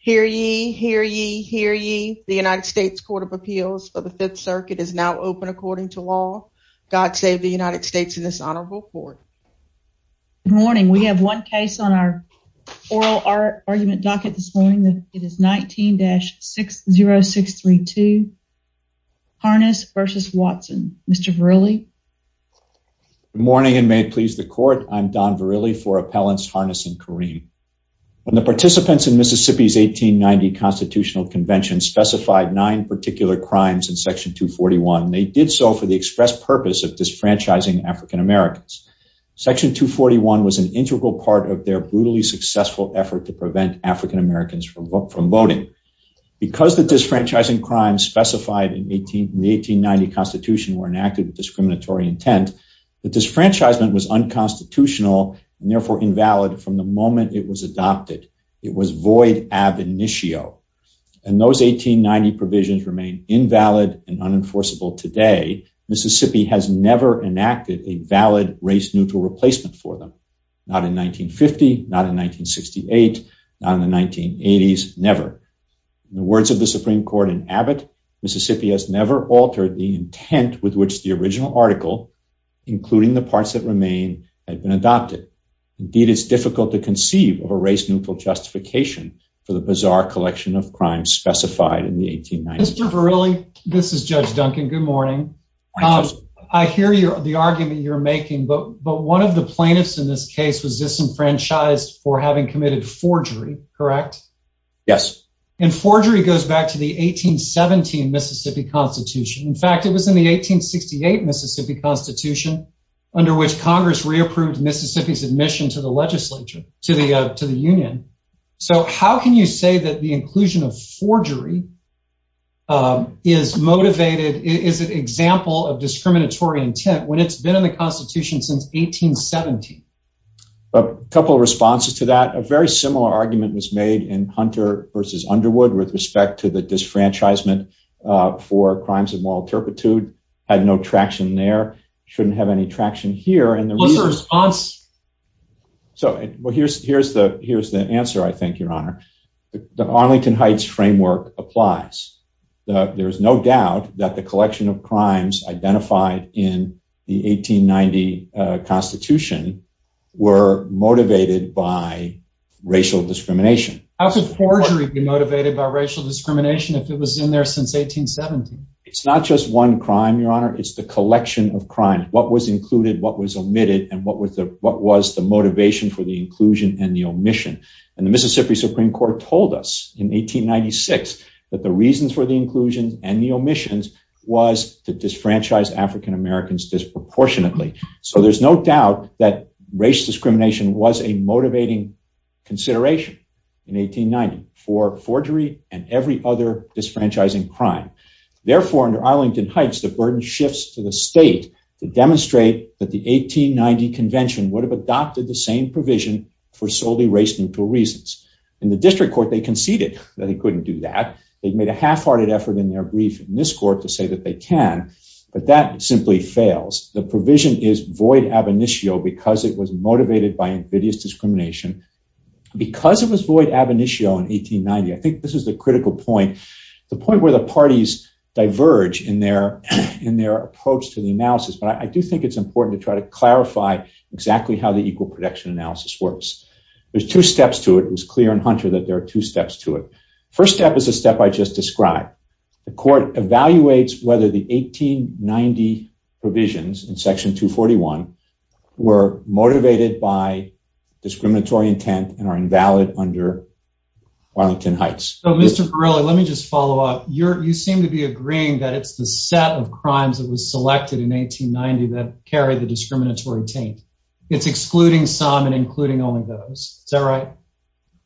Hear ye, hear ye, hear ye. The United States Court of Appeals for the Fifth Circuit is now open according to law. God save the United States and this honorable court. Good morning. We have one case on our oral argument docket this morning. It is 19-60632, Harness v. Watson. Mr. Verrilli. Good morning and may it please the court. I'm Don Verrilli for Appellants Harness and Kareem. When the participants in Mississippi's 1890 Constitutional Convention specified nine particular crimes in section 241. They did so for the express purpose of disfranchising African-Americans. Section 241 was an integral part of their brutally successful effort to prevent African-Americans from voting. Because the disfranchising crimes specified in the 1890 Constitution were enacted with discriminatory intent, the disfranchisement was unconstitutional and therefore invalid from the moment it was adopted. It was void ab initio. And those 1890 provisions remain invalid and unenforceable today. Mississippi has never enacted a valid race-neutral replacement for them. Not in 1950, not in 1968, not in the 1980s, never. In the words of the Supreme Court in Abbott, Mississippi has never altered the intent with which the original article, including the parts that remain, had been adopted. Indeed, it's difficult to conceive of a race-neutral justification for the bizarre collection of crimes specified in the 1890s. Mr. Verrilli, this is Judge Duncan. Good morning. I hear the argument you're making, but one of the plaintiffs in this case was disenfranchised for having committed forgery, correct? Yes. And forgery goes back to the 1817 Mississippi Constitution. In fact, it was in the 1868 Mississippi Constitution under which Congress reapproved Mississippi's admission to the legislature, to the to the Union. So how can you say that the inclusion of forgery is motivated, is an example of discriminatory intent when it's been in the Constitution since 1817? A couple of responses to that. A very similar argument was made in Hunter versus Underwood with respect to the alterpitude. Had no traction there, shouldn't have any traction here. And the response. So here's the answer, I think, Your Honor. The Arlington Heights framework applies. There's no doubt that the collection of crimes identified in the 1890 Constitution were motivated by racial discrimination. How could forgery be motivated by racial discrimination if it was in there since 1817? It's not just one crime, Your Honor. It's the collection of crime. What was included, what was omitted and what was the motivation for the inclusion and the omission? And the Mississippi Supreme Court told us in 1896 that the reasons for the inclusion and the omissions was to disfranchise African Americans disproportionately. So there's no doubt that race discrimination was a motivating consideration in 1890 for forgery and every other disfranchising crime. Therefore, under Arlington Heights, the burden shifts to the state to demonstrate that the 1890 Convention would have adopted the same provision for solely race neutral reasons. In the district court, they conceded that he couldn't do that. They've made a half hearted effort in their brief in this court to say that they can, but that simply fails. The provision is void ab initio because it was motivated by invidious discrimination. Because it was void ab initio in 1890, I think this is the critical point. The point where the parties diverge in their in their approach to the analysis. But I do think it's important to try to clarify exactly how the equal protection analysis works. There's two steps to it was clear in Hunter that there are two steps to it. First step is a step I just described. The court evaluates whether the 1890 provisions in Section 2 41 were motivated by discriminatory intent and are invalid under Arlington Heights. So, Mr Burrell, let me just follow up. You seem to be agreeing that it's the set of crimes that was selected in 1890 that carry the discriminatory taint. It's excluding some and including only those. Is that right?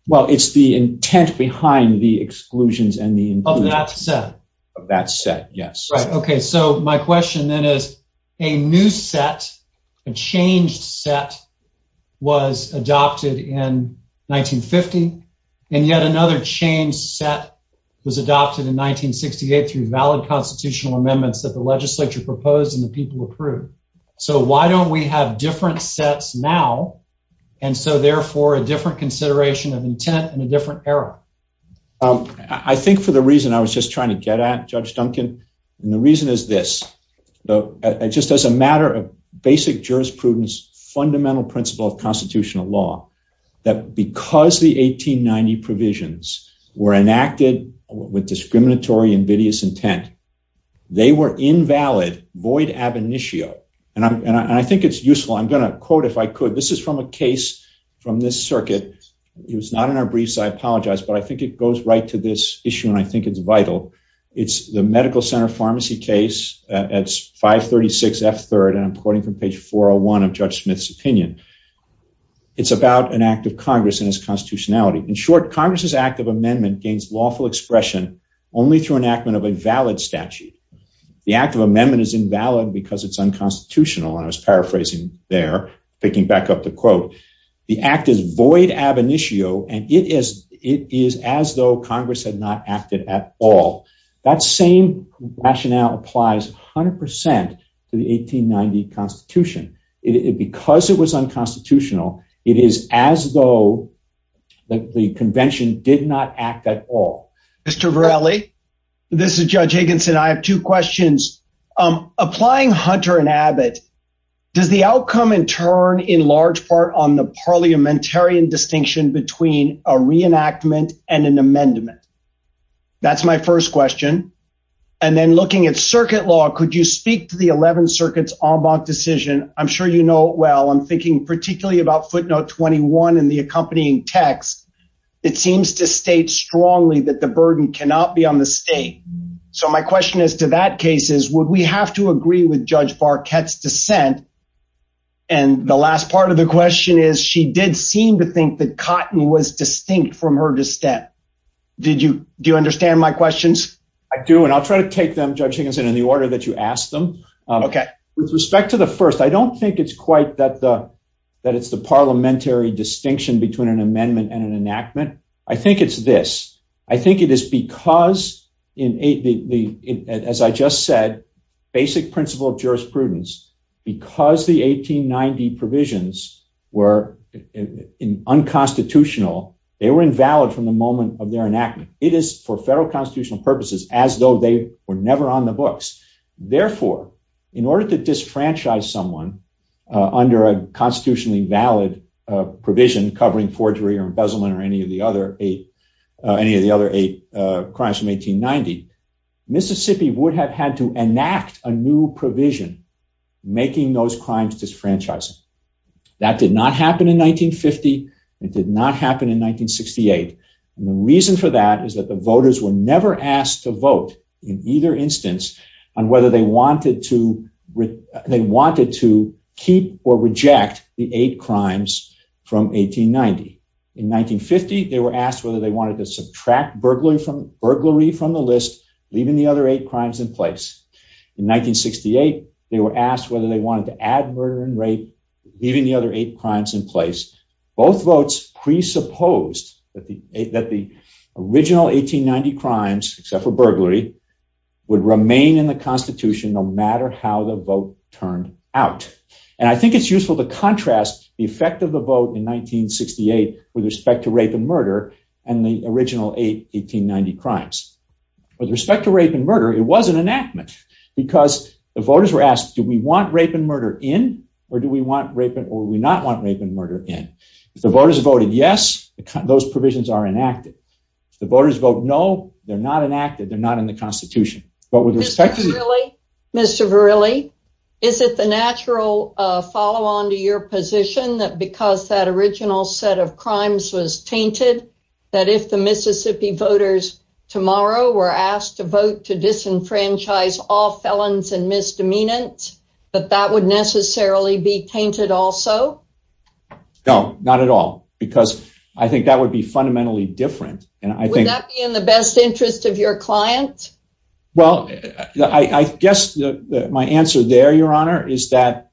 Well, it's the intent behind the exclusions and the of that set of that set. Yes, right. Okay. So my question then is a new set. A changed set was adopted in 1950. And yet another change set was adopted in 1968 through valid constitutional amendments that the Legislature proposed in the people approved. So why don't we have different sets now? And so, therefore, a different consideration of intent in a different era? I think for the reason I was just trying to get at Judge Duncan. And the reason is this just as a matter of basic jurisprudence, fundamental principle of constitutional law, that because the 1890 provisions were enacted with discriminatory invidious intent, they were invalid void ab initio. And I think it's useful. I'm gonna quote if I could. This is from a case from this circuit. It was not in our briefs. I apologize, but I think it goes right to this issue, and I think it's vital. It's the Medical Center Pharmacy case. It's 5 36 F third, and I'm quoting from page 401 of Judge Smith's opinion. It's about an act of Congress and his constitutionality. In short, Congress's act of amendment gains lawful expression only through enactment of a valid statute. The act of amendment is invalid because it's unconstitutional. And I was paraphrasing there, picking back up the quote. The act is void ab initio, and it is. It is as though Congress had not acted at all. That same rationale applies 100% to the 1890 Constitution. It because it was unconstitutional. It is as though the convention did not act at all. Mr Verrilli, this is Judge Higginson. I have two questions applying Hunter and Abbott. Does the outcome in turn in large part on the parliamentarian distinction between a reenactment and an amendment? That's my first question. And then looking at circuit law, could you speak to the 11 circuits on bond decision? I'm sure you know. Well, I'm thinking particularly about footnote 21 in the accompanying text. It seems to state strongly that the burden cannot be on the state. So my question is to that case is, would we have to agree with Judge Barquette's dissent? And the last part of the question is, she did seem to think that cotton was distinct from her to step. Did you? Do you understand my questions? I do, and I'll try to take them, Judge Higginson, in the order that you asked them. Okay, with respect to the first, I don't think it's quite that the that it's the parliamentary distinction between an amendment and an enactment. I think it's this. I think it is because in the as I just said, basic principle of jurisprudence, because the 1890 provisions were unconstitutional, they were invalid from the moment of their enactment. It is for federal constitutional purposes as though they were never on the books. Therefore, in order to disfranchise someone under a constitutionally valid provision covering forgery or embezzlement or any of the other eight, any of the other eight crimes from 1890, Mississippi would have had to enact a new provision making those crimes disfranchising. That did not happen in 1950. It did not happen in 1968. And the reason for that is that the voters were never asked to vote in either instance on whether they wanted to. They wanted to keep or reject the eight crimes from 1890. In 1950, they were asked whether they wanted to subtract burglary from burglary from the list, leaving the other eight crimes in place. In 1968, they were asked whether they wanted to add murder and rape, leaving the other eight crimes in place. Both votes presupposed that the that the original 1890 crimes except for burglary would remain in the Constitution no matter how the vote turned out. And I think it's useful to contrast the effect of the vote in 1968 with respect to rape and original eight 1890 crimes. With respect to rape and murder, it was an enactment because the voters were asked, Do we want rape and murder in or do we want rape or we not want rape and murder in? If the voters voted yes, those provisions are enacted. The voters vote no, they're not enacted. They're not in the Constitution. But with respect to Mr Verrilli, is it the natural follow on to your position that because that original set of crimes was tainted that if the Mississippi voters tomorrow were asked to vote to disenfranchise all felons and misdemeanors that that would necessarily be tainted also? No, not at all. Because I think that would be fundamentally different. And I think that in the best interest of your client. Well, I guess my answer there, Your Honor, is that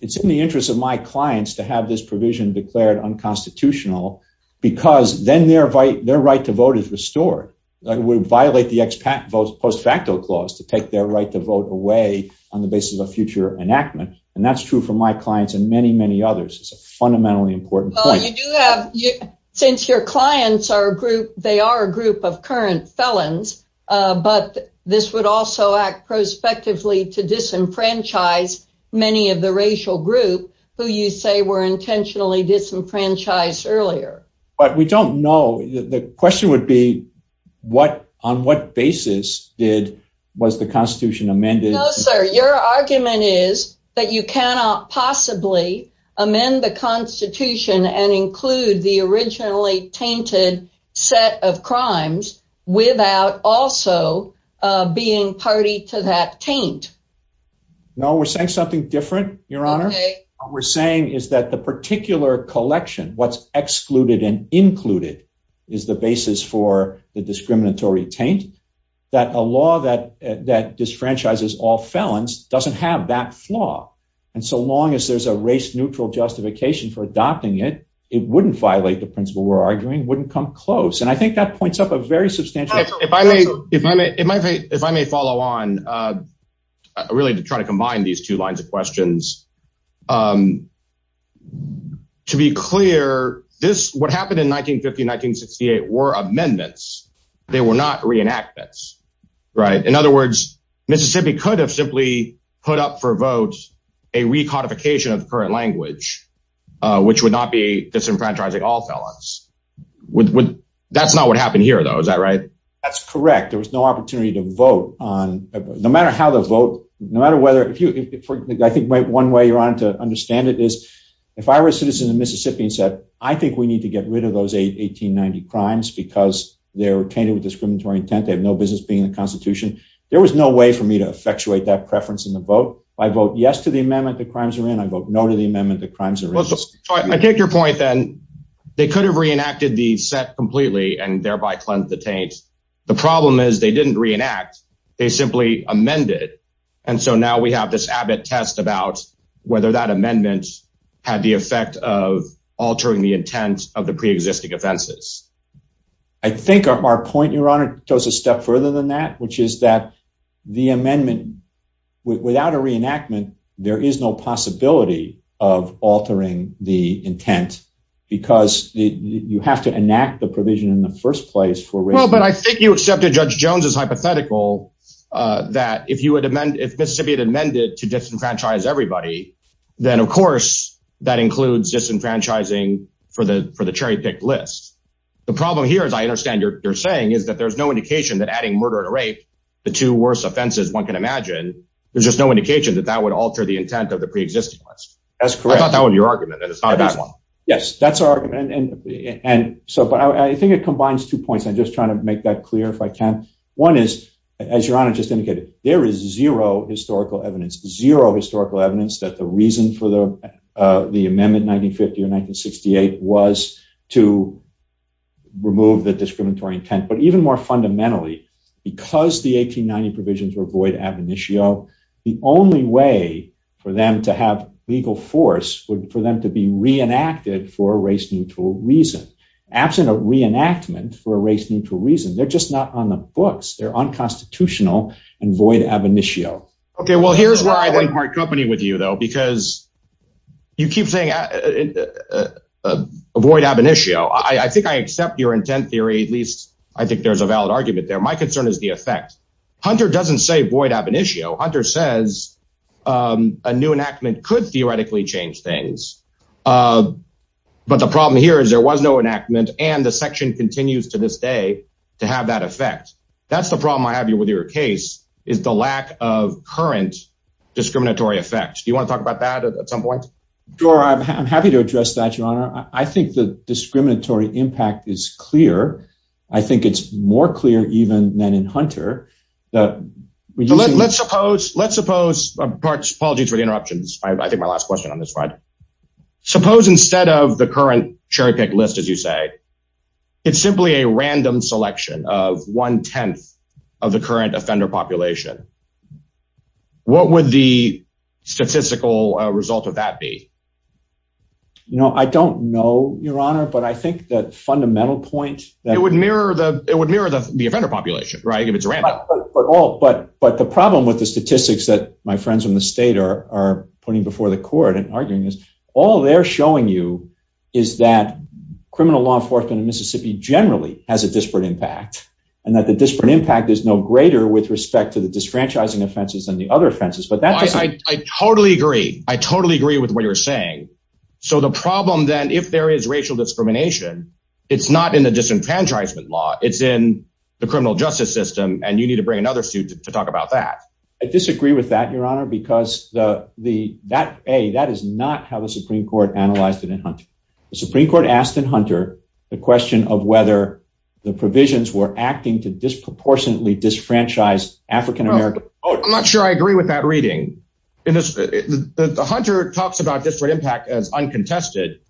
it's in the interest of my clients to have this their right to vote is restored. It would violate the ex post facto clause to take their right to vote away on the basis of a future enactment. And that's true for my clients and many, many others. It's a fundamentally important point. Since your clients are a group, they are a group of current felons. But this would also act prospectively to disenfranchise many of the racial group who you say were intentionally disenfranchised earlier. But we don't know. The question would be what on what basis did was the Constitution amended? Sir, your argument is that you cannot possibly amend the Constitution and include the originally tainted set of crimes without also being party to that taint. No, we're saying something different, Your Honor. We're saying is that the particular collection what's excluded and included is the basis for the discriminatory taint that a law that that disenfranchises all felons doesn't have that flaw. And so long as there's a race neutral justification for adopting it, it wouldn't violate the principle we're arguing wouldn't come close. And I think that points up a very substantial if I may, if I may, if I may follow on really to try to combine these two lines of questions. To be clear, this what happened in 1950-1968 were amendments. They were not reenactments. Right. In other words, Mississippi could have simply put up for votes, a recodification of the current language, which would not be disenfranchising all felons. That's not what happened here, though. Is that right? That's correct. There was no opportunity to vote on no matter how the vote, no matter whether I think one way you're on to understand it is if I were a citizen of Mississippi and said, I think we need to get rid of those 1890 crimes because they're tainted with discriminatory intent. They have no business being in the Constitution. There was no way for me to effectuate that preference in the vote. I vote yes to the amendment that crimes are in. I vote no to the amendment that crimes are in. I take your point then they could have reenacted the set completely and thereby cleanse the taint. The problem is they didn't reenact. They simply amended. And so now we have this Abbott test about whether that amendment had the effect of altering the intent of the preexisting offenses. I think our point, your honor, goes a step further than that, which is that the amendment without a reenactment, there is no possibility of altering the enact the provision in the first place for well, but I think you accepted Judge Jones's hypothetical that if you would amend if Mississippi had amended to disenfranchise everybody, then of course, that includes disenfranchising for the for the cherry pick list. The problem here is I understand you're saying is that there's no indication that adding murder to rape, the two worst offenses one can imagine, there's just no indication that that would alter the intent of the preexisting list. That's correct. That was your argument. And it's so but I think it combines two points. I'm just trying to make that clear if I can. One is, as your honor just indicated, there is zero historical evidence, zero historical evidence that the reason for the the amendment 1950 or 1968 was to remove the discriminatory intent. But even more fundamentally, because the 1890 provisions were void ab initio, the only way for them to have legal force for them to be reenacted for race neutral reason, absent a reenactment for a race neutral reason, they're just not on the books, they're unconstitutional, and void ab initio. Okay, well, here's where I went part company with you, though, because you keep saying, avoid ab initio, I think I accept your intent theory, at least, I think there's a valid argument there. My concern is the effect. Hunter doesn't say void ab initio. Hunter says, a new enactment could theoretically change things. But the problem here is there was no enactment and the section continues to this day, to have that effect. That's the problem I have you with your case is the lack of current discriminatory effect. Do you want to talk about that at some point? Sure, I'm happy to address that, your honor. I think the discriminatory impact is clear. I think it's more clear even than in Hunter. That let's suppose let's suppose parts apologies for the interruptions. I think my last question on this right. Suppose instead of the current cherry pick list, as you say, it's simply a random selection of one 10th of the current offender population. What would the statistical result of that be? No, I don't know, your honor. But I think that fundamental point that would mirror the it would mirror the offender population, right? If it's random, but all but but the problem with the statistics that my friends in the state are putting before the court and arguing is all they're showing you is that criminal law enforcement in Mississippi generally has a disparate impact, and that the disparate impact is no greater with respect to the disenfranchising offenses and the other offenses, but that's I totally agree. I totally agree with what you're saying. So the problem then if there is racial discrimination, it's not in the disenfranchisement law, it's in the criminal justice system, and you need to bring another suit to talk about that. I disagree with that, your honor, because the the that a that is not how the Supreme Court analyzed it in Hunter. The Supreme Court asked in Hunter, the question of whether the provisions were acting to disproportionately disenfranchised African American. I'm not sure I agree with that reading. In this, the hunter talks about disparate impact as uncontested.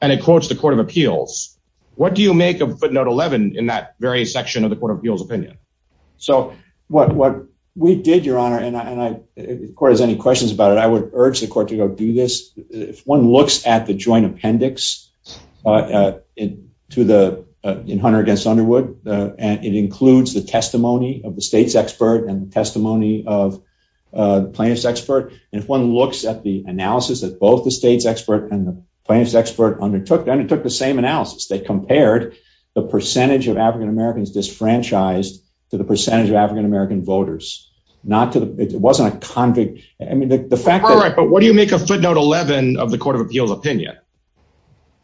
And it quotes the Court of Appeals. What do you make of footnote 11 in that very section of the Court of Appeals opinion? So what what we did, your honor, and I, of course, any questions about it, I would urge the court to go do this. If one looks at the joint appendix, uh, to the hunter against Underwood, and it includes the testimony of the state's expert and the testimony of plaintiff's expert. And if one looks at the analysis that both the state's expert and the plaintiff's expert undertook, they undertook the same analysis. They compared the percentage of African Americans disenfranchised to the percentage of African American voters, not to the it wasn't a convict. I mean, the fact that right. But what do you make of footnote 11 of the Court of Appeals opinion?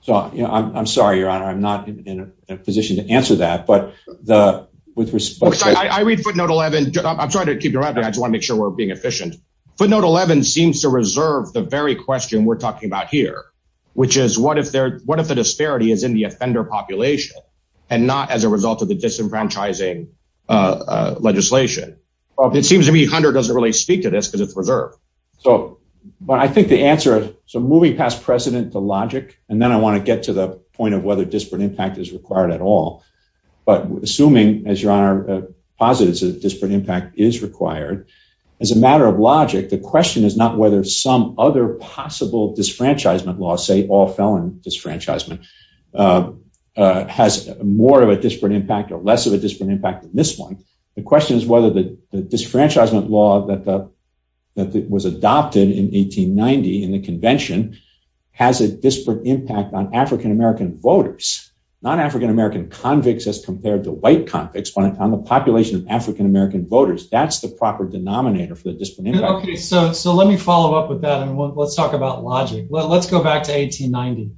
So I'm sorry, your honor, I'm not in a position to answer that. But the with respect, I read footnote 11. I'm sorry to keep driving. I just want to make sure we're being efficient. footnote 11 seems to reserve the very question we're talking about here, which is what if they're what if the disparity is in the offender population and not as a result of the disenfranchising legislation? It seems to me 100 doesn't really speak to this because it's reserved. So, but I think the answer so moving past precedent to logic, and then I want to get to the point of whether disparate impact is required at all. But assuming as your honor, positives, a disparate impact is required. As a matter of logic, the question is not whether some other possible disenfranchisement laws say all and disenfranchisement has more of a disparate impact or less of a disparate impact than this one. The question is whether the disenfranchisement law that the that was adopted in 1890 in the convention has a disparate impact on African American voters, non African American convicts as compared to white convicts on the population of African American voters. That's the proper denominator for the discipline. Okay, so so let me follow up with that. And let's talk about logic. Let's go back to 1890.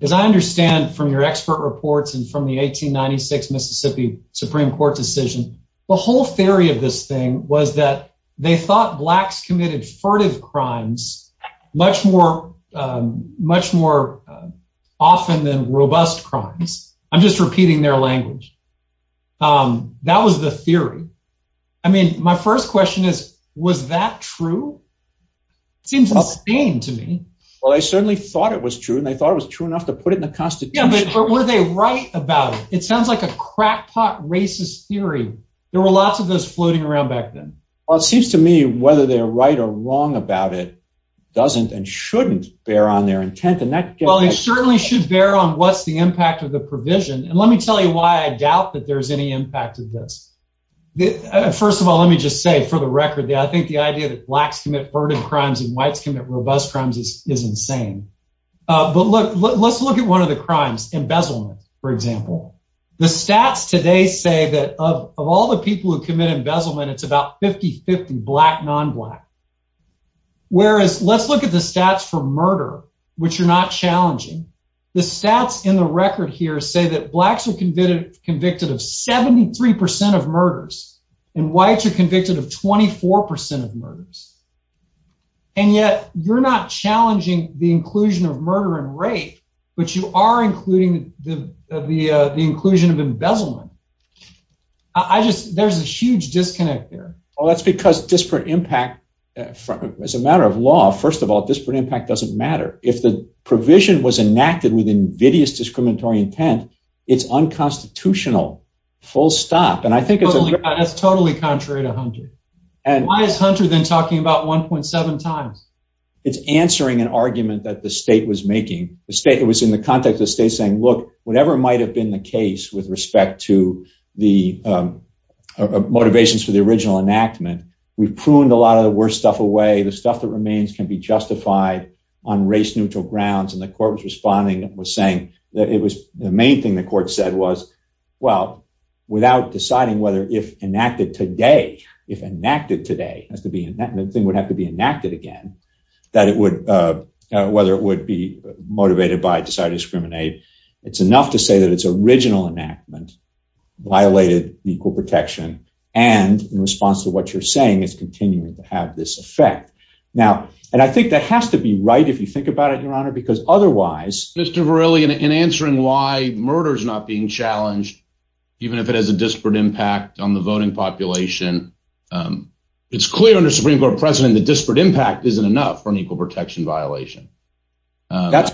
As I understand from your expert reports and from the 1896 Mississippi Supreme Court decision, the whole theory of this thing was that they thought blacks committed furtive crimes much more much more often than robust crimes. I'm just repeating their language. Um, was the theory. I mean, my first question is, was that true? Seems insane to me. Well, I certainly thought it was true, and I thought it was true enough to put it in the Constitution. Were they right about it? It sounds like a crackpot racist theory. There were lots of those floating around back then. Well, it seems to me whether they're right or wrong about it doesn't and shouldn't bear on their intent. And that certainly should bear on what's the impact of the provision. And let me tell you why I doubt that there's any impact of this. First of all, let me just say for the record that I think the idea that blacks commit furtive crimes and whites commit robust crimes is is insane. But look, let's look at one of the crimes embezzlement. For example, the stats today say that of all the people who commit embezzlement, it's about 50 50 black non black. Whereas let's look at the stats for murder, which are not challenging. The 93% of murders and whites are convicted of 24% of murders. And yet you're not challenging the inclusion of murder and rape, but you are including the inclusion of embezzlement. I just there's a huge disconnect there. Well, that's because disparate impact as a matter of law. First of all, disparate impact doesn't matter. If the provision was enacted with invidious discriminatory intent, it's unconstitutional. Full stop. And I think it's totally contrary to 100. And why is Hunter than talking about 1.7 times? It's answering an argument that the state was making the state. It was in the context of state saying, Look, whatever might have been the case with respect to the motivations for the original enactment, we pruned a lot of the worst stuff away. The stuff that remains can be justified on race neutral grounds. And the court was responding was saying that it was the main thing the court said was, well, without deciding whether if enacted today, if enacted today has to be in that thing would have to be enacted again, that it would whether it would be motivated by decided discriminate. It's enough to say that its original enactment violated equal protection. And in response to what you're saying is continuing to have this effect now. And I think that has to be right. If you think about it, Your Honor, because otherwise, Mr Verrilli in answering why murder is not being challenged, even if it has a disparate impact on the voting population, um, it's clear under Supreme Court precedent. The disparate impact isn't enough for an equal protection violation. That's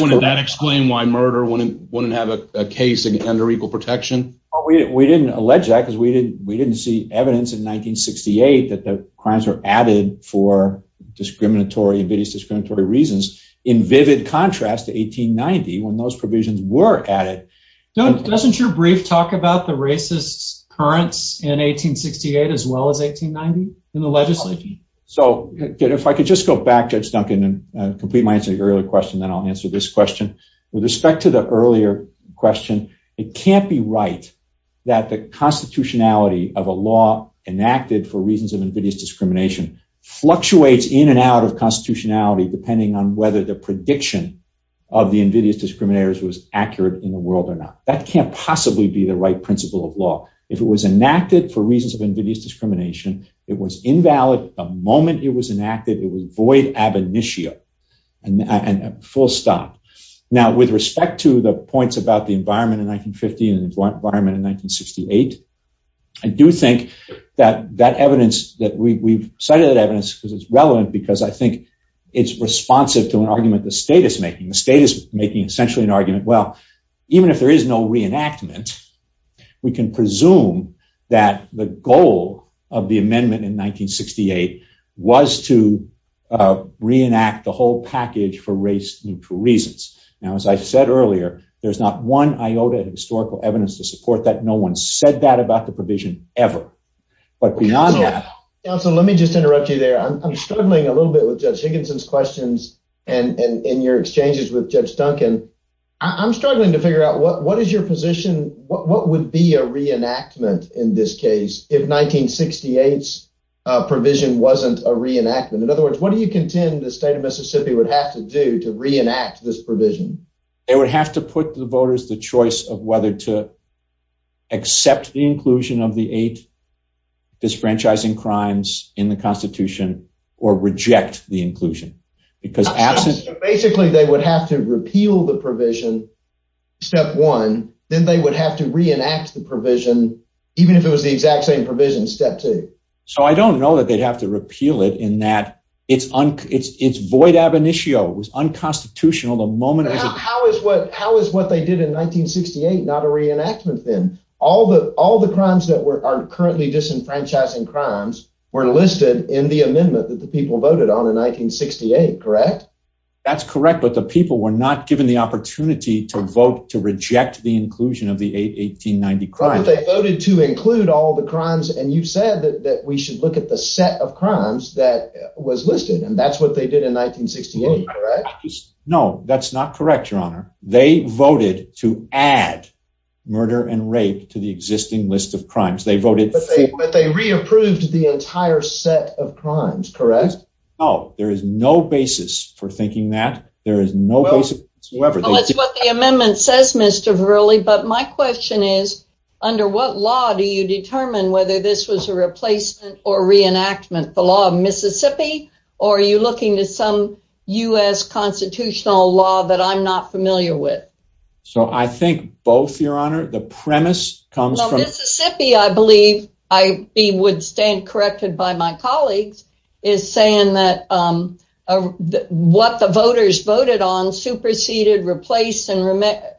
one of that. Explain why murder wouldn't wouldn't have a case under equal protection. We didn't allege that because we didn't. We didn't see evidence in 1968 that the crimes were committed for reasons of invidious discriminatory reasons in vivid contrast to 1890 when those provisions were added. Don't doesn't your brief talk about the racist currents in 1868 as well as 1890 in the legislation? So if I could just go back, Judge Duncan and complete my answer earlier question, then I'll answer this question. With respect to the earlier question, it can't be right that the constitutionality of a law enacted for an out of constitutionality, depending on whether the prediction of the invidious discriminators was accurate in the world or not. That can't possibly be the right principle of law. If it was enacted for reasons of invidious discrimination, it was invalid. The moment it was enacted, it was void ab initio and full stop. Now, with respect to the points about the environment in 1950 and environment in 1968, I do think that that evidence that we've cited that evidence because it's relevant because I think it's responsive to an argument the state is making. The state is making essentially an argument. Well, even if there is no reenactment, we can presume that the goal of the amendment in 1968 was to reenact the whole package for race neutral reasons. Now, as I said earlier, there's not one iota of historical evidence to support that. No one said that about the council. Let me just interrupt you there. I'm struggling a little bit with Judge Higginson's questions and in your exchanges with Judge Duncan. I'm struggling to figure out what what is your position? What would be a reenactment in this case if 1968 provision wasn't a reenactment? In other words, what do you contend the state of Mississippi would have to do to reenact this provision? They would have to put the voters the choice of whether to accept the inclusion of the eight disfranchising crimes in the Constitution or reject the inclusion because absent basically they would have to repeal the provision. Step one, then they would have to reenact the provision, even if it was the exact same provision. Step two. So I don't know that they'd have to repeal it in that it's it's it's void. Ab initio was unconstitutional the moment. How is what? How is what they did in 1968? Not a reenactment. Then all the all the crimes that were are currently disenfranchising crimes were listed in the amendment that the people voted on in 1968. Correct. That's correct. But the people were not given the opportunity to vote to reject the inclusion of the 8 1890 crime. They voted to include all the crimes. And you said that we should look at the set of crimes that was listed, and that's what they did in 1968. No, that's not correct, Your Honor. They voted to add murder and rape to the existing list of crimes. They voted, but they re approved the entire set of crimes. Correct. Oh, there is no basis for thinking that there is no basic whoever. That's what the amendment says, Mr Verily. But my question is, under what law do you the law of Mississippi? Or are you looking to some U. S. Constitutional law that I'm not familiar with? So I think both, Your Honor. The premise comes from Mississippi. I believe I would stand corrected by my colleagues is saying that, um, what the voters voted on superseded, replaced and,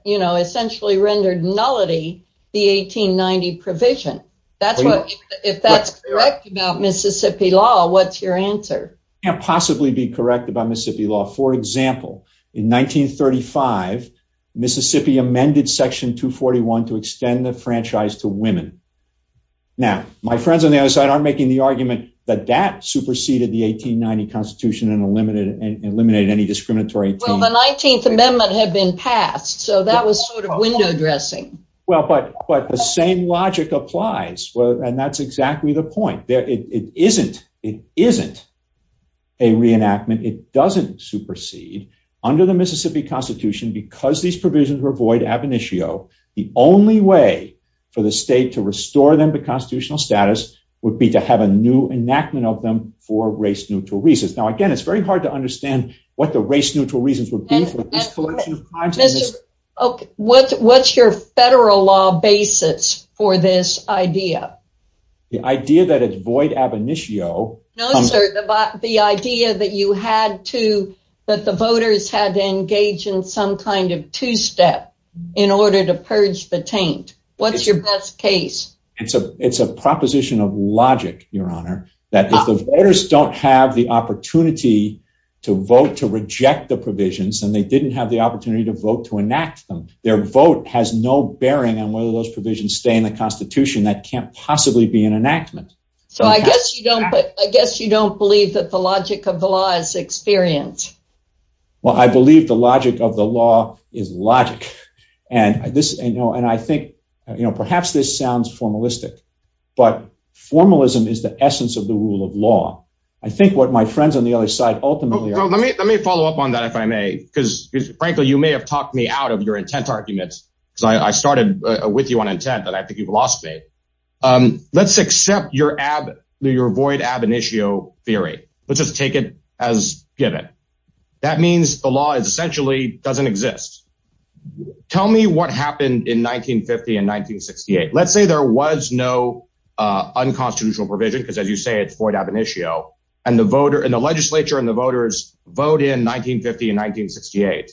you know, essentially rendered nullity. The 1890 provision. That's what if that's correct about Mississippi law, what's your answer? Can't possibly be correct about Mississippi law. For example, in 1935, Mississippi amended Section 2 41 to extend the franchise to women. Now, my friends on the other side are making the argument that that superseded the 1890 Constitution and eliminated eliminated any discriminatory 19th Amendment had been passed. So that was sort of window dressing. Well, but but the same logic applies. And that's it isn't. It isn't a reenactment. It doesn't supersede under the Mississippi Constitution because these provisions were void ab initio. The only way for the state to restore them to constitutional status would be to have a new enactment of them for race neutral reasons. Now again, it's very hard to understand what the race neutral reasons would be for this collection of crimes. Okay, what's your federal law basis for this idea? The void ab initio? No, sir. The idea that you had to that the voters had to engage in some kind of two step in order to purge the taint. What's your best case? It's a it's a proposition of logic, Your Honor, that if the voters don't have the opportunity to vote to reject the provisions and they didn't have the opportunity to vote to enact them, their vote has no bearing on whether those provisions stay in the Constitution. That can't possibly be an enactment. So I guess you don't, I guess you don't believe that the logic of the law is experience. Well, I believe the logic of the law is logic. And this, you know, and I think, you know, perhaps this sounds formalistic, but formalism is the essence of the rule of law. I think what my friends on the other side ultimately are. Let me follow up on that if I may, because frankly you may have talked me out of your intent arguments. I started with you on intent that I think you've lost me. Let's accept your void ab initio theory. Let's just take it as given. That means the law is essentially doesn't exist. Tell me what happened in 1950 and 1968. Let's say there was no unconstitutional provision because as you say it's void ab initio and the voter and the legislature and the voters vote in 1950 and 1968.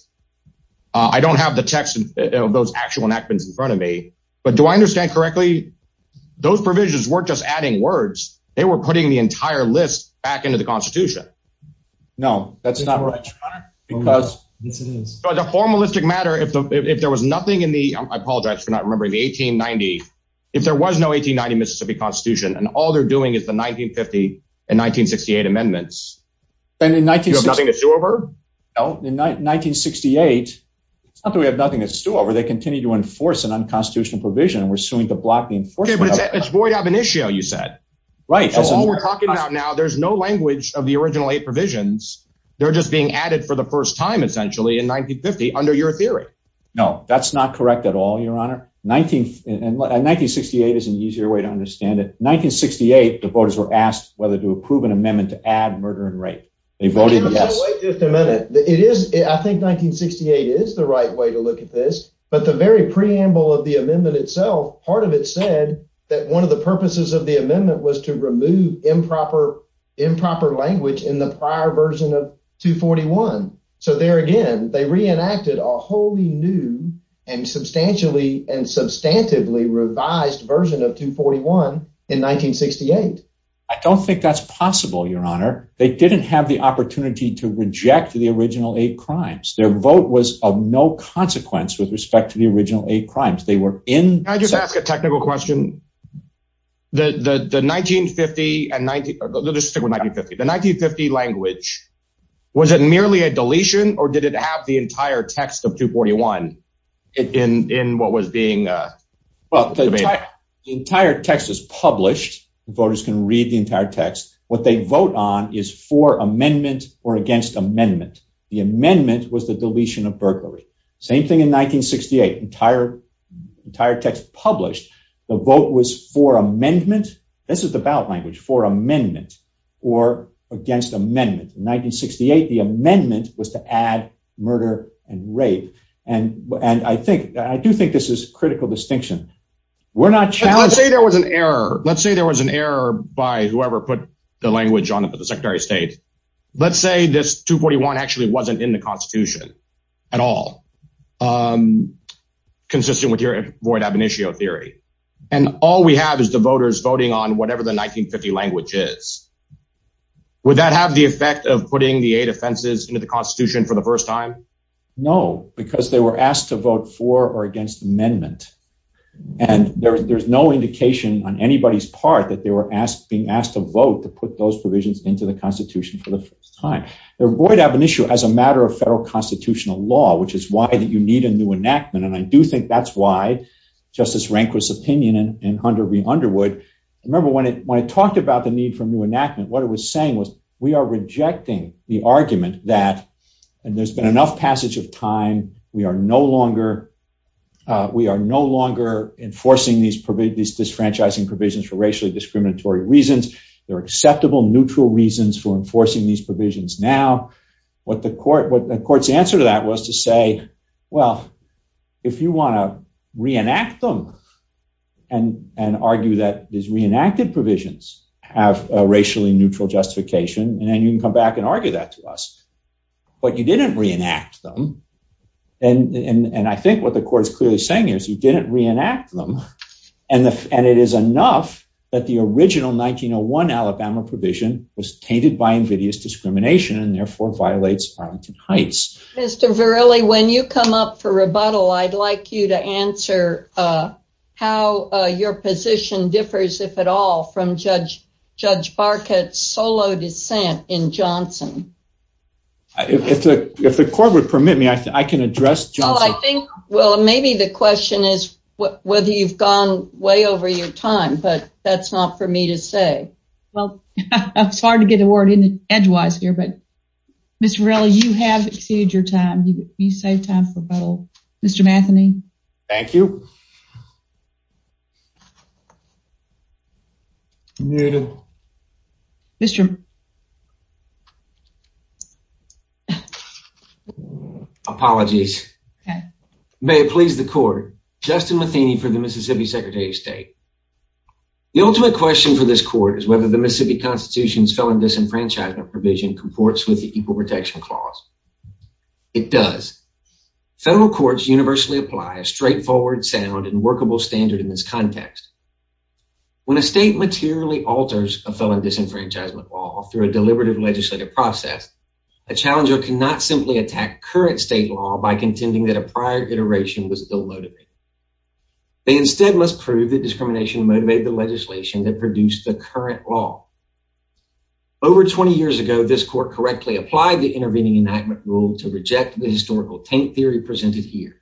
I don't have the text of those actual enactments in front of me, but do I understand correctly? Those provisions weren't just adding words. They were putting the entire list back into the constitution. No, that's not right because it's a formalistic matter. If there was nothing in the, I apologize for not remembering the 1890, if there was no 1890 Mississippi constitution and all they're doing is the 1950 and 1968 amendments. And in 1960, you have nothing to stew over? No, in 1968, it's not that we have nothing to stew over. They continue to enforce an unconstitutional provision and we're suing to block the enforcement. It's void ab initio, you said. Right. So all we're talking about now, there's no language of the original eight provisions. They're just being added for the first time essentially in 1950 under your theory. No, that's not correct at all, your honor. 1968 is an easier way to understand it. 1968, the voters were asked whether to approve an amendment to add murder and rape. They voted yes. I think 1968 is the right way to look at this, but the very preamble of the amendment itself, part of it said that one of the purposes of the amendment was to remove improper improper language in the prior version of 2 41. So there again, they reenacted a wholly new and substantially and substantively revised version of 2 41 in 1968. I don't think that's possible, your honor. They didn't have the opportunity to reject the original eight crimes. Their vote was of no consequence with respect to the original eight crimes. They were in. I just ask a technical question. The 1950 and let's stick with 1950. The 1950 language. Was it merely a deletion or did it have the entire text of 2 41 in what was being, uh, well, the entire text is published. Voters can read the entire text. What they vote on is for amendment or against amendment. The amendment was the deletion of burglary. Same thing in 1968. Entire entire text published. The vote was for amendment. This is the ballot language for amendment or against amendment. In 1968, the amendment was to add murder and rape. And and I think I do think this is critical distinction. We're not challenging. There was an error. Let's put the language on the secretary of state. Let's say this 2 41 actually wasn't in the Constitution at all. Um, consistent with your void ab initio theory. And all we have is the voters voting on whatever the 1950 language is. Would that have the effect of putting the eight offenses into the Constitution for the first time? No, because they were asked to vote for or against amendment. And there's no indication on anybody's part that they were asked being asked to vote to put those provisions into the Constitution for the first time. They're going to have an issue as a matter of federal constitutional law, which is why that you need a new enactment. And I do think that's why Justice Rehnquist opinion in 100 Underwood. Remember, when it when I talked about the need for a new enactment, what it was saying was we are rejecting the argument that there's been enough passage of time. We are no longer we are no longer enforcing these these disfranchising provisions for racially discriminatory reasons. They're acceptable, neutral reasons for enforcing these provisions. Now, what the court what the court's answer to that was to say, Well, if you want to reenact them and and argue that is reenacted provisions have racially neutral justification, and then you can come back and argue that to us. But you didn't reenact them. And I think what the court is clearly saying is you didn't reenact them. And it is enough that the original 1901 Alabama provision was tainted by invidious discrimination and therefore violates Arlington Heights. Mr. Verrilli, when you come up for rebuttal, I'd like you to answer how your position differs, if at all, from Judge Judge Barkett's solo descent in Johnson. If the if the court would permit me, I can address John. Well, maybe the way over your time, but that's not for me to say. Well, it's hard to get a word in edgewise here. But, Mr. Verrilli, you have exceeded your time. You say time for battle. Mr. Matheny. Thank you. You know, Mr. Apologies. May it please the court. Justin Matheny for the Mississippi Secretary of State. The ultimate question for this court is whether the Mississippi Constitution's felon disenfranchisement provision comports with the Equal Protection Clause. It does. Federal courts universally apply a straightforward, sound and workable standard in this context. When a state materially alters a felon disenfranchisement law through a deliberative legislative process, a challenger cannot simply attack current state law by contending that a prior iteration was still loaded. They instead must prove that discrimination motivated the legislation that produced the current law. Over 20 years ago, this court correctly applied the intervening enactment rule to reject the historical tank theory presented here.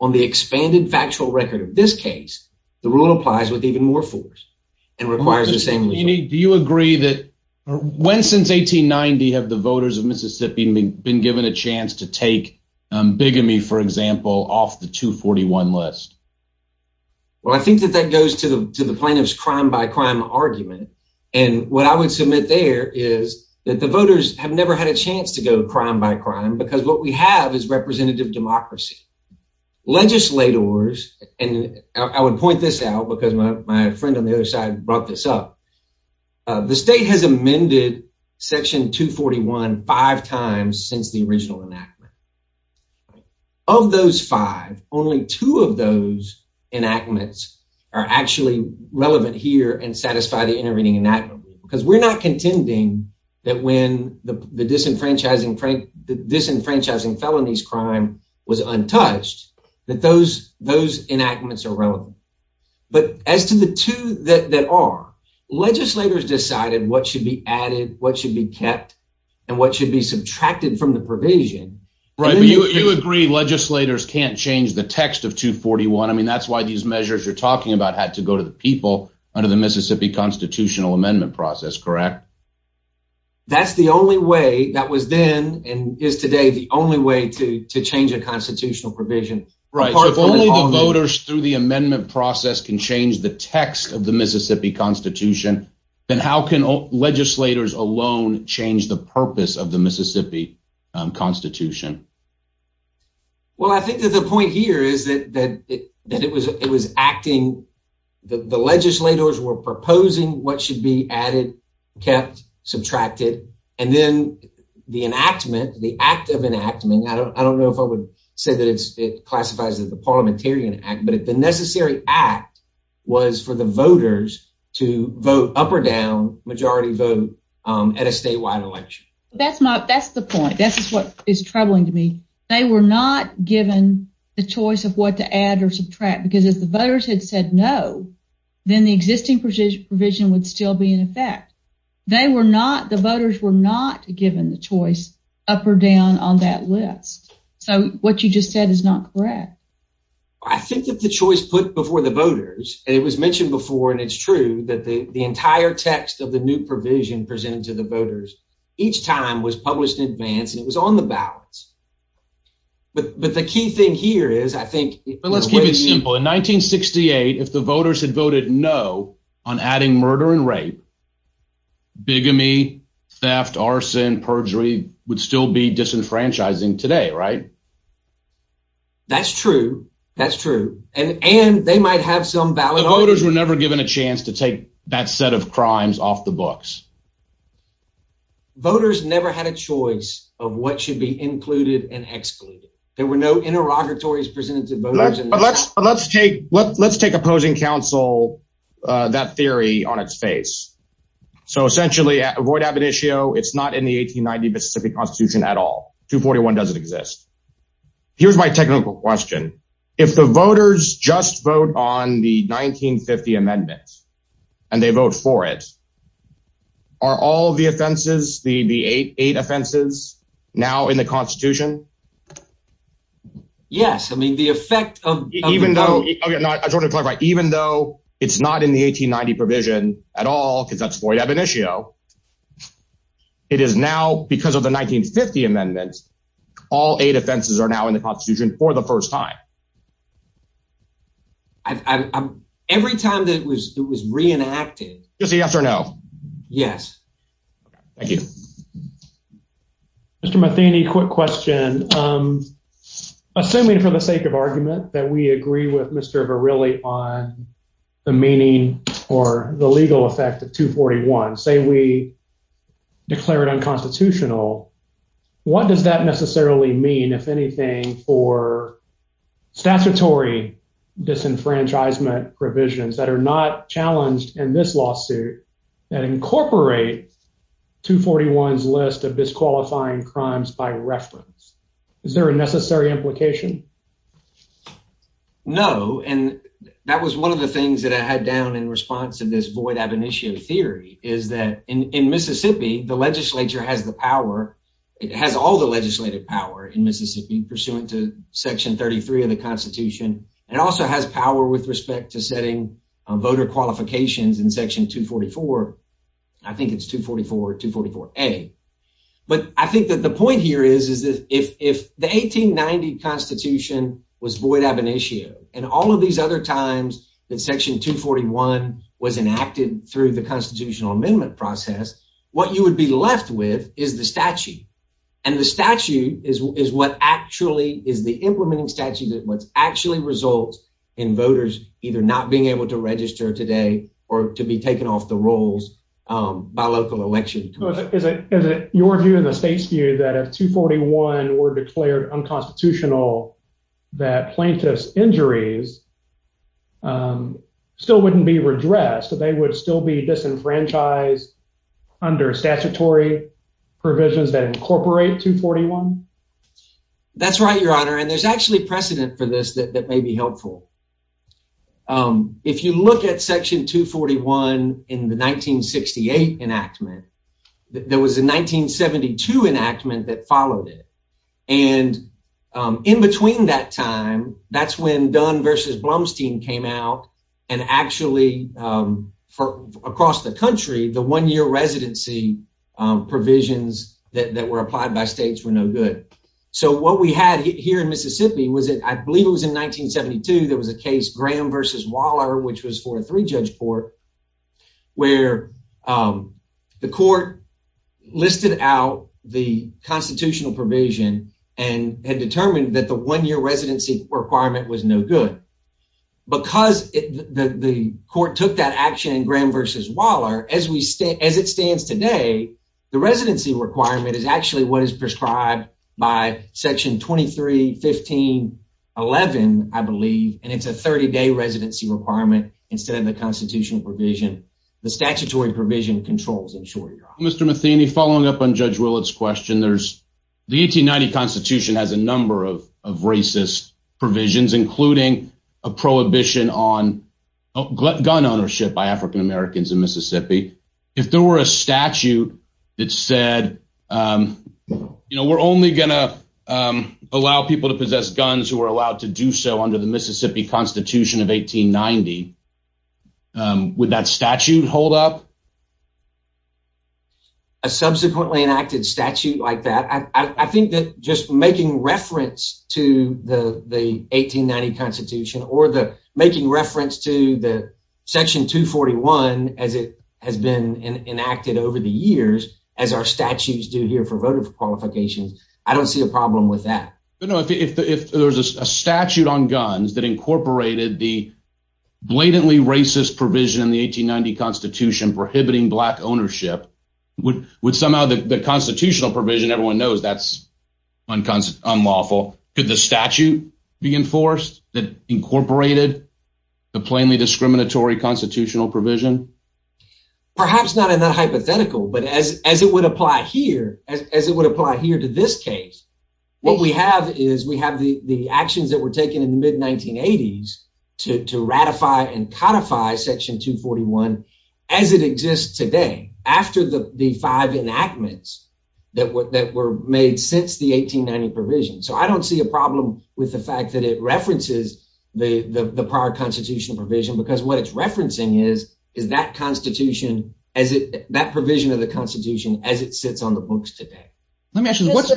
On the expanded factual record of this case, the rule applies with even more force and requires the same. Do you agree that when since 1890 have the voters of Mississippi been given a chance to take bigamy, for example, off the 241 list? Well, I think that that goes to the to the plaintiff's crime by crime argument. And what I would submit there is that the voters have never had a chance to go crime by crime because what we have is representative democracy, legislators. And I would point this out because my friend on the other side brought this up. The state has amended Section 241 five times since the original enactment. Of those five, only two of those enactments are actually relevant here and satisfy the intervening enactment because we're not contending that when the disenfranchising frank disenfranchising felonies crime was untouched that those those enactments are relevant. But as to the two that are legislators decided what should be added, what should be kept and what you agree legislators can't change the text of 241. I mean, that's why these measures you're talking about had to go to the people under the Mississippi constitutional amendment process, correct? That's the only way that was then and is today the only way to to change a constitutional provision, right? If only the voters through the amendment process can change the text of the Mississippi Constitution, then how can legislators alone change the purpose of the Mississippi Constitution? Well, I think that the point here is that that that it was it was acting the legislators were proposing what should be added, kept, subtracted and then the enactment, the act of enactment. I don't know if I would say that it's it classifies that the Parliamentarian Act, but the necessary act was for the voters to vote up or down majority vote at a statewide election. That's not that's the point. This is what is troubling to me. They were not given the choice of what to add or subtract because as the voters had said no, then the existing precision provision would still be in effect. They were not the voters were not given the choice up or down on that list. So what you just said is not correct. I think that the choice put before the voters and it was mentioned before and it's true that the entire text of the new provision presented to the voters each time was published in advance and it was on the ballots. But but the key thing here is I think let's keep it simple. In 1968, if the voters had voted no on adding murder and rape, bigamy, theft, arson, perjury would still be disenfranchising today, right? That's true. That's true. And and they might have some ballot holders were that set of crimes off the books. Voters never had a choice of what should be included and excluded. There were no interrogatories presented to voters. Let's let's take let's take opposing counsel that theory on its face. So essentially avoid ab initio. It's not in the 1890 Mississippi Constitution at all. 2 41 doesn't exist. Here's my and they vote for it. Are all the offenses the the 88 offenses now in the Constitution? Yes. I mean, the effect of even though I sort of talk about even though it's not in the 1890 provision at all, because that's void ab initio. It is now because of the 1950 amendments. All eight offenses are now in the Constitution for the first time. I'm every time that it was it was reenacted. You see, yes or no? Yes. Thank you, Mr Matheny. Quick question. Um, assuming for the sake of argument that we agree with Mr Verrilli on the meaning or the legal effect of 2 41 say we declared unconstitutional. What does that necessarily mean? If anything, for statutory disenfranchisement provisions that are not challenged in this lawsuit that incorporate 2 41's list of disqualifying crimes by reference, is there a necessary implication? No. And that was one of the things that I had down in response to this void ab initio theory is that in Mississippi, the Legislature has the power. It has all the legislative power in Mississippi pursuant to Section 33 of the Constitution. It also has power with respect to setting voter qualifications in Section 2 44. I think it's 2 44 to 44 a. But I think that the point here is is that if if the 1890 Constitution was void ab initio and all of these other times that Section 2 41 was enacted through the constitutional amendment process, what you would be left with is the statute. And the statute is is what actually is the implementing statute that was actually results in voters either not being able to register today or to be taken off the rolls by local election. Is it? Is it your view in the state's view that of 2 41 were declared unconstitutional that plaintiff's injuries is, um, still wouldn't be redressed. They would still be disenfranchised under statutory provisions that incorporate 2 41. That's right, Your Honor. And there's actually precedent for this that may be helpful. Um, if you look at Section 2 41 in the 1968 enactment, there was a 1972 enactment that followed it. And, um, in between that time, that's when done versus Blumstein came out and actually, um, for across the country, the one year residency provisions that were applied by states were no good. So what we had here in Mississippi was it? I believe it was in 1972. There was a case Graham versus Waller, which was for three judge court where, um, the out the constitutional provision and had determined that the one year residency requirement was no good because the court took that action in Graham versus Waller as we stay as it stands today. The residency requirement is actually what is prescribed by Section 23 15 11, I believe, and it's a 30 day residency requirement. Instead of the constitutional provision, the judge will its question. There's the 1890 Constitution has a number of of racist provisions, including a prohibition on gun ownership by African Americans in Mississippi. If there were a statute that said, um, you know, we're only gonna, um, allow people to possess guns who are allowed to do so under the Mississippi Constitution of 1890. Um, with that statute hold up, a subsequently enacted statute like that. I think that just making reference to the 1890 Constitution or the making reference to the Section 2 41 as it has been enacted over the years as our statutes do here for voter qualifications. I don't see a problem with that. You know, if there's a statute on guns that incorporated the blatantly racist provision in the 1890 Constitution prohibiting black ownership would would somehow the constitutional provision everyone knows that's unconstitutional, unlawful. Could the statute be enforced that incorporated the plainly discriminatory constitutional provision? Perhaps not in that hypothetical, but as as it would apply here as it would apply here to this case, what we have is we have the actions that were taken in mid 1980s to to ratify and codify Section 2 41 as it exists today after the five enactments that were that were made since the 1890 provision. So I don't see a problem with the fact that it references the prior constitutional provision because what it's referencing is is that Constitution as that provision of the Constitution as it sits on the books today. Let me ask you this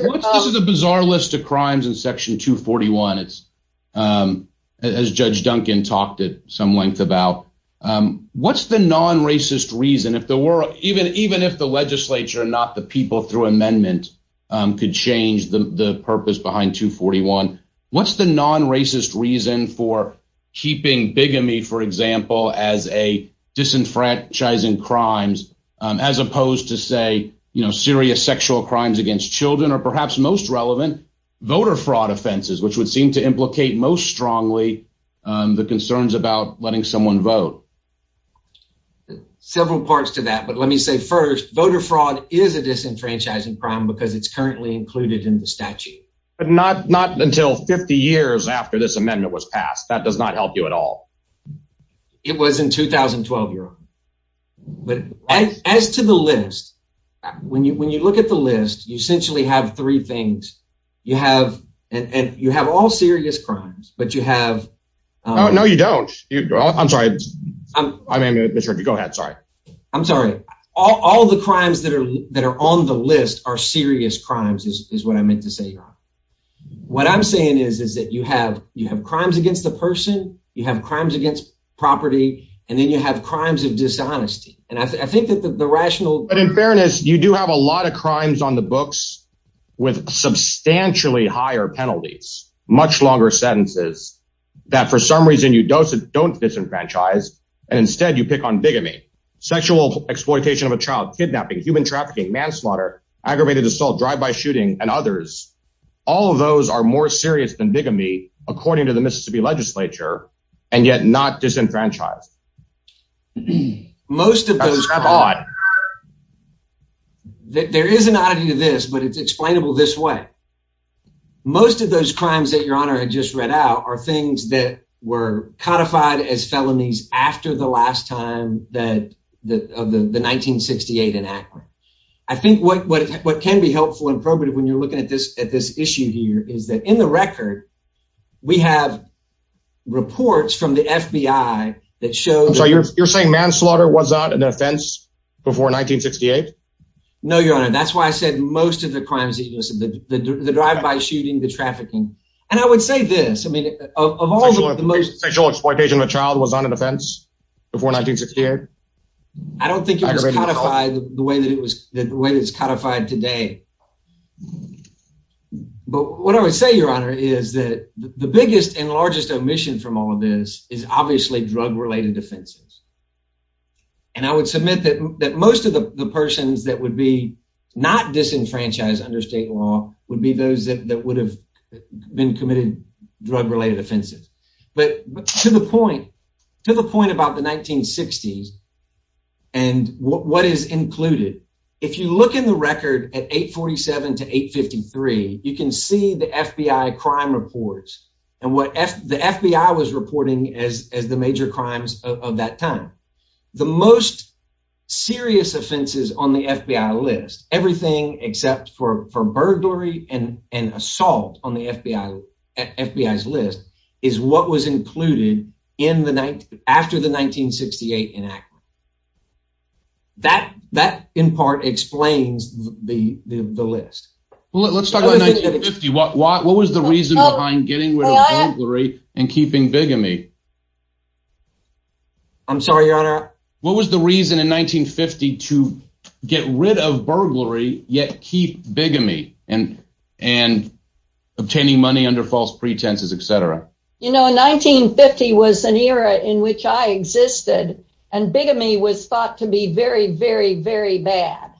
is a bizarre list of crimes in Section 2 41. It's, um, as Judge Duncan talked at some length about, um, what's the non racist reason if the world even even if the legislature and not the people through amendment could change the purpose behind 2 41? What's the non racist reason for keeping bigamy, for example, as a disenfranchising crimes as opposed to say, you know, serious sexual crimes against Children or perhaps most relevant voter fraud offenses, which would seem to implicate most strongly the concerns about letting someone vote several parts to that. But let me say first voter fraud is a disenfranchising crime because it's currently included in the statute, but not not until 50 years after this amendment was passed. That does not help you at all. It was in 2012 year old. But as to the list, when you when you look at the list, you essentially have three things you have, and you have all serious crimes, but you have. No, you don't. I'm sorry. I mean, go ahead. Sorry. I'm sorry. All the crimes that are that are on the list are serious crimes is what I meant to say. What I'm saying is, is that you have you have crimes against the person you have crimes against property, and then you have crimes of dishonesty. And I think that the rational but in fairness, you do have a lot of crimes on the books with substantially higher penalties, much longer sentences that for some reason you don't don't disenfranchise. And instead you pick on bigamy, sexual exploitation of a child, kidnapping, human trafficking, manslaughter, aggravated assault, drive by shooting and others. All of those are more serious than bigamy, according to the Mississippi Legislature, and yet not disenfranchised. Most of those are that there is an oddity to this, but it's explainable this way. Most of those crimes that your honor had just read out are things that were codified as felonies after the last time that of the 1968 enactment. I think what what what can be helpful and probative when you're looking at this at this issue here is that in the record, we have reports from the FBI that shows you're saying manslaughter was not an offense before 1968. No, your honor. That's why I said most of the crimes, the drive by shooting the trafficking. And I would say this. I mean, of all the most sexual exploitation of a child was on an offense before 1968. I don't think it was codified the way that it was the way that's codified today. But what I would say, your honor, is that the biggest and largest omission from all of this is obviously drug related offenses. And I would submit that that most of the persons that would be not disenfranchised under state law would be those that would have been committed drug related offenses. But to the point to the point about the 1960s and what is included. If you look in the record at 8 47 to 8 53, you can see the FBI crime reports and what the FBI was reporting as as the major crimes of that time. The most serious offenses on the FBI list, everything except for for burglary and assault on the FBI FBI's list is what was included in the night after the 1968 enactment. That that in part explains the list. Let's talk about 50. What? What? What was the reason behind getting rid of burglary and keeping bigamy? I'm sorry, your honor. What was the reason in 1952 get rid of burglary yet keep bigamy and and obtaining money under false pretenses, etcetera. You know, 1950 was an era in which I existed and bigamy was thought to be very, very, very bad.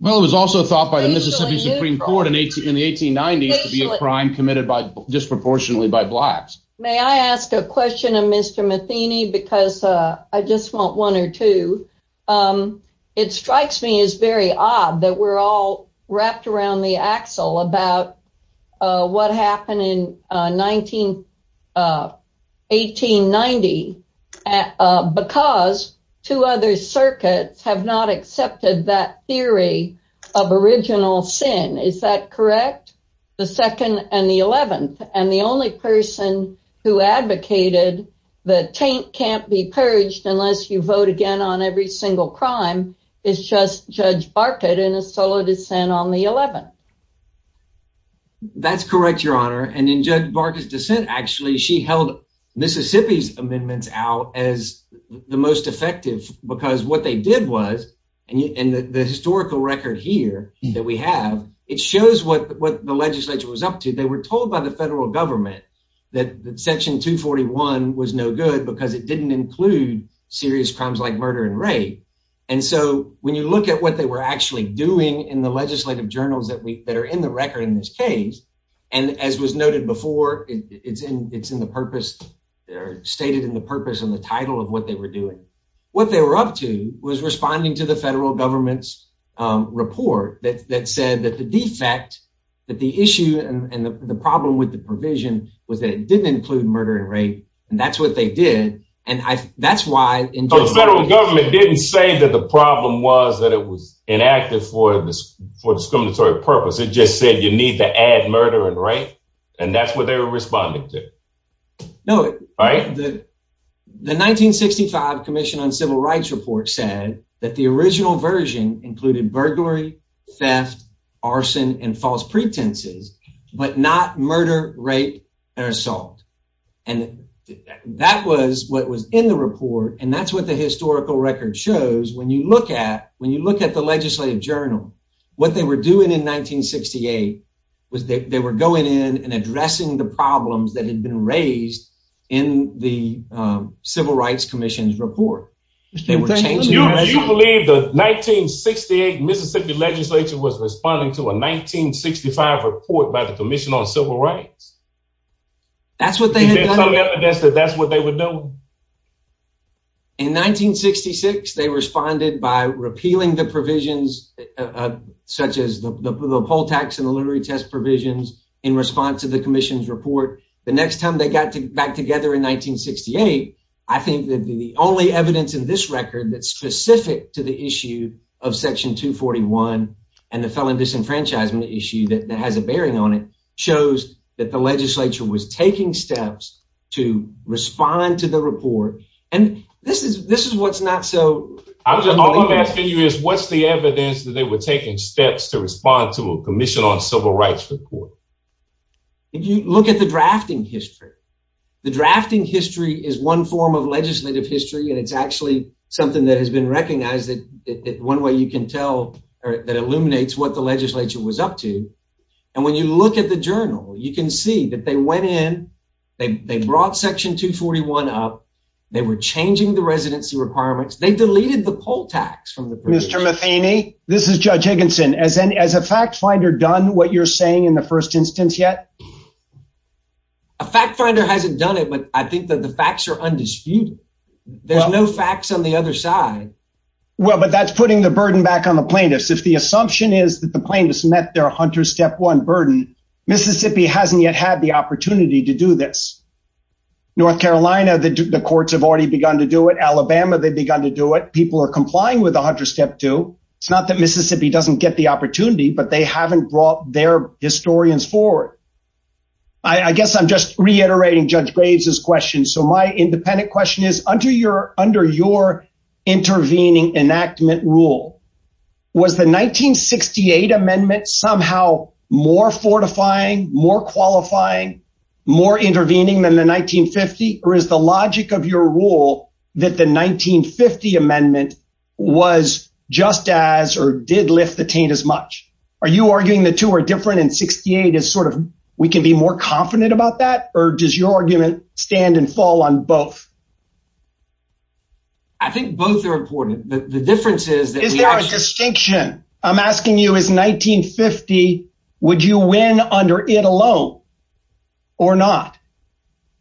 Well, it was also thought by the Mississippi Supreme Court in 18 in the 1890s to be a crime committed by disproportionately by blacks. May I ask a question of Mr Matheny because I just want one or two. It strikes me as very odd that we're all wrapped around the axle about what happened in 19, uh, 1890. Uh, because two other circuits have not accepted that theory of original sin. Is that correct? The second and the 11th and the only person who advocated the taint can't be purged unless you vote again on every single crime. It's just Judge Barker did in a solo dissent on the 11. That's correct, your honor. And in Judge Barker's dissent, actually, she held Mississippi's amendments out as the most effective because what they did was and the historical record here that we have, it shows what the legislature was up to. They were told by the federal government that section 2 41 was no good because it didn't include serious crimes like murder and rape. And so when you look at what they were actually doing in the legislative journals that we that are in the record in this case, and as was noted before, it's in. It's in the purpose stated in the purpose and the title of what they were doing. What they were up to was responding to the federal government's report that said that the defect that the issue and the problem with the provision was that it didn't include murder and rape. And that's what they did. And that's why the federal government didn't say that the problem was that it was inactive for this for discriminatory purpose. It just said you need to add murder and rape, and that's what they were responding to. No, right. The 1965 Commission on Civil Rights report said that the original version included burglary, theft, arson and false pretenses, but not murder, rape and assault. And that was what was in the report. And that's what the historical record shows. When you look at when you look at the legislative journal, what they were doing in 1968 was they were going in and addressing the problems that had been raised in the Civil Rights Commission's report. They were changing. You believe the 1968 Mississippi legislature was responding to a 1965 report by the Commission on Civil Rights? That's what they had done. That's what they would do. In 1966, they responded by repealing the provisions such as the poll tax and the literary test provisions in response to the commission's report. The next time they got back together in 1968, I think that the only evidence in this record that's specific to the issue of Section 241 and the felon disenfranchisement issue that has a bearing on it shows that the legislature was taking steps to respond to the report. And this is what's not so... I'm asking you is what's the evidence that they were taking steps to respond to a Commission on Civil Rights report? You look at the drafting history. The drafting history is one form of legislative history, and it's actually something that has been recognized that one way you can tell or that illuminates what the legislature was up to. And when you look at the journal, you can see that they went in, they brought Section 241 up, they were changing the residency requirements, they deleted the poll tax from the provision. Mr. Matheny, this is Judge Higginson. Has a fact finder done what you're saying in the first instance yet? A fact finder hasn't done it, but I think that the facts are undisputed. There's no facts on the other side. Well, but that's putting the burden back on the plaintiffs. If the assumption is that the plaintiffs met their Hunter Step 1 burden, Mississippi hasn't yet had the opportunity to do this. North Carolina, the courts have already begun to do it. Alabama, they've begun to do it. People are complying with the Hunter Step 2. It's not that Mississippi doesn't get the opportunity, but they haven't brought their historians forward. I guess I'm just reiterating Judge Graves' question. So my independent question is, under your intervening enactment rule, was the 1968 amendment somehow more fortifying, more qualifying, more intervening than the 1950? Or is the logic of your rule that the 1950 amendment was just as or did lift the taint as much? Are you arguing the two are different and 68 is sort of, we can be more confident about that? Or does your argument stand and fall on both? I think both are important. But the difference is that is there a distinction? I'm asking you is 1950, would you win under it alone? Or not?